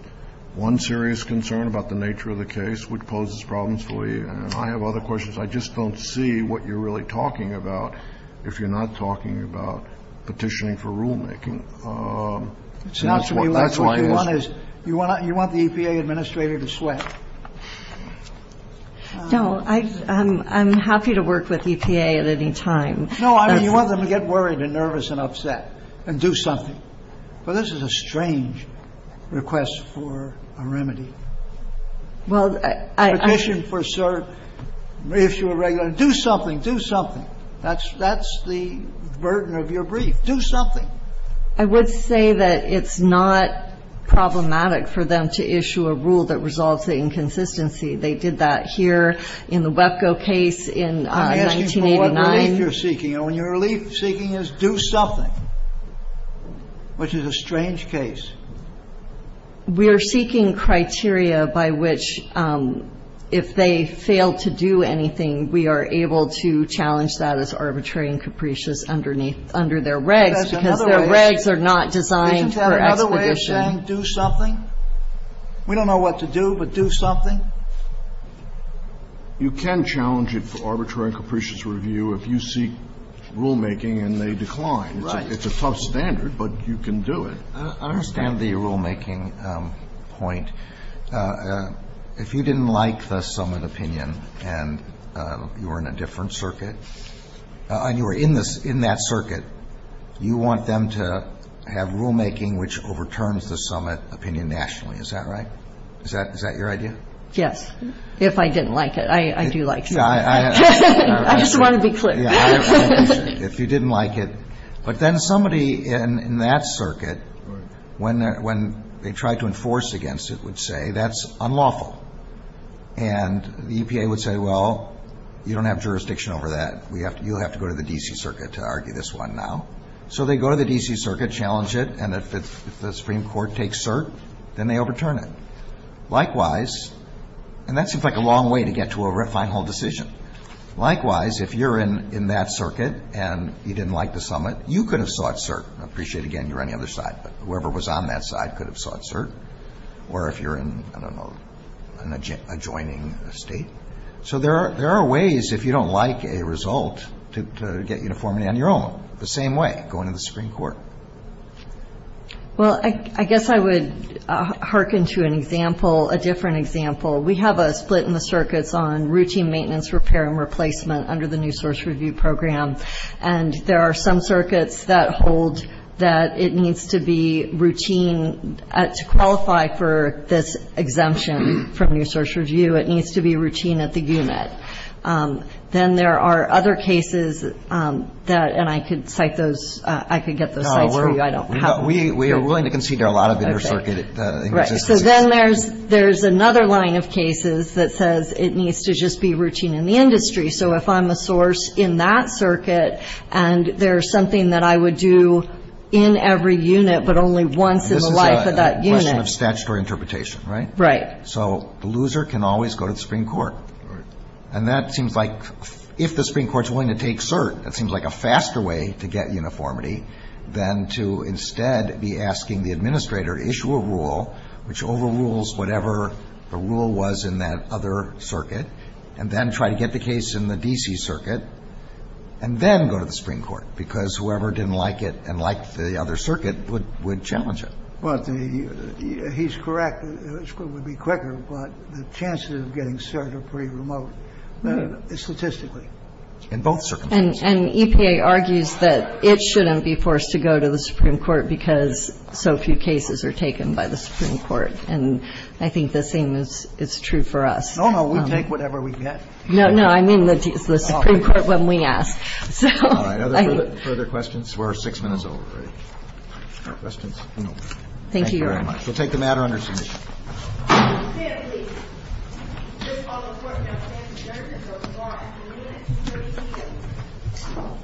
one serious concern about the nature of the case, which poses problems for you. And I have other questions. I just don't see what you're really talking about. If you're not talking about petitioning for rulemaking. You want you want the EPA administrator to sweat. No, I'm happy to work with EPA at any time. No, I mean, you want them to get worried and nervous and upset and do something. But this is a strange request for a remedy. Well, I. Petition for cert. Reissue a regular. Do something. Do something. That's the burden of your brief. Do something. I would say that it's not problematic for them to issue a rule that results in inconsistency. They did that here in the Webco case in 1989. I guess you saw what relief you're seeking. And what you're seeking is do something, which is a strange case. We are seeking criteria by which if they fail to do anything, we are able to challenge that as arbitrary and capricious underneath, under their regs. Because their regs are not designed for acquisition. Isn't there another way of saying do something? We don't know what to do, but do something. You can challenge it for arbitrary and capricious review if you seek rulemaking and they decline. Right. It's a tough standard, but you can do it. I understand the rulemaking point. If you didn't like the summit opinion and you were in a different circuit, and you were in that circuit, you want them to have rulemaking which overturns the summit opinion nationally. Is that right? Is that your idea? Yes. If I didn't like it. I do like it. I just want to be clear. If you didn't like it. But then somebody in that circuit, when they tried to enforce against it, would say that's unlawful. And the EPA would say, well, you don't have jurisdiction over that. We have to you have to go to the D.C. circuit to argue this one now. So they go to the D.C. circuit, challenge it. And if the Supreme Court takes cert, then they overturn it. Likewise. And that seems like a long way to get to a final decision. Likewise, if you're in that circuit and you didn't like the summit, you could have sought cert. I appreciate, again, you're on the other side. Whoever was on that side could have sought cert. Or if you're in, I don't know, an adjoining state. So there are ways, if you don't like a result, to get uniformity on your own. The same way, going to the Supreme Court. Well, I guess I would hearken to an example, a different example. We have a split in the circuits on routine maintenance, repair, and replacement under the New Source Review Program. And there are some circuits that hold that it needs to be routine. To qualify for this exemption from New Source Review, it needs to be routine at the unit. Then there are other cases that, and I could cite those, I could get the slides for you. I don't have them. We are willing to consider a lot of inter-circuit. Right. So then there's another line of cases that says it needs to just be routine in the industry. So if I'm a source in that circuit and there's something that I would do in every unit but only once in the life of that unit. Statutory interpretation, right? Right. So the loser can always go to the Supreme Court. And that seems like, if the Supreme Court is willing to take cert, that seems like a faster way to get uniformity than to instead be asking the administrator, issue a rule which overrules whatever the rule was in that other circuit, and then try to get the case in the D.C. circuit, and then go to the Supreme Court. Because whoever didn't like it and liked the other circuit would challenge it. He's correct. It would be quicker. But the chances of getting cert are pretty remote statistically. In both circumstances. And EPA argues that it shouldn't be forced to go to the Supreme Court because so few cases are taken by the Supreme Court. And I think the same is true for us. No, no, we take whatever we get. No, no, I mean the Supreme Court when we ask. Further questions were six minutes over. Thank you very much. We'll take the matter under.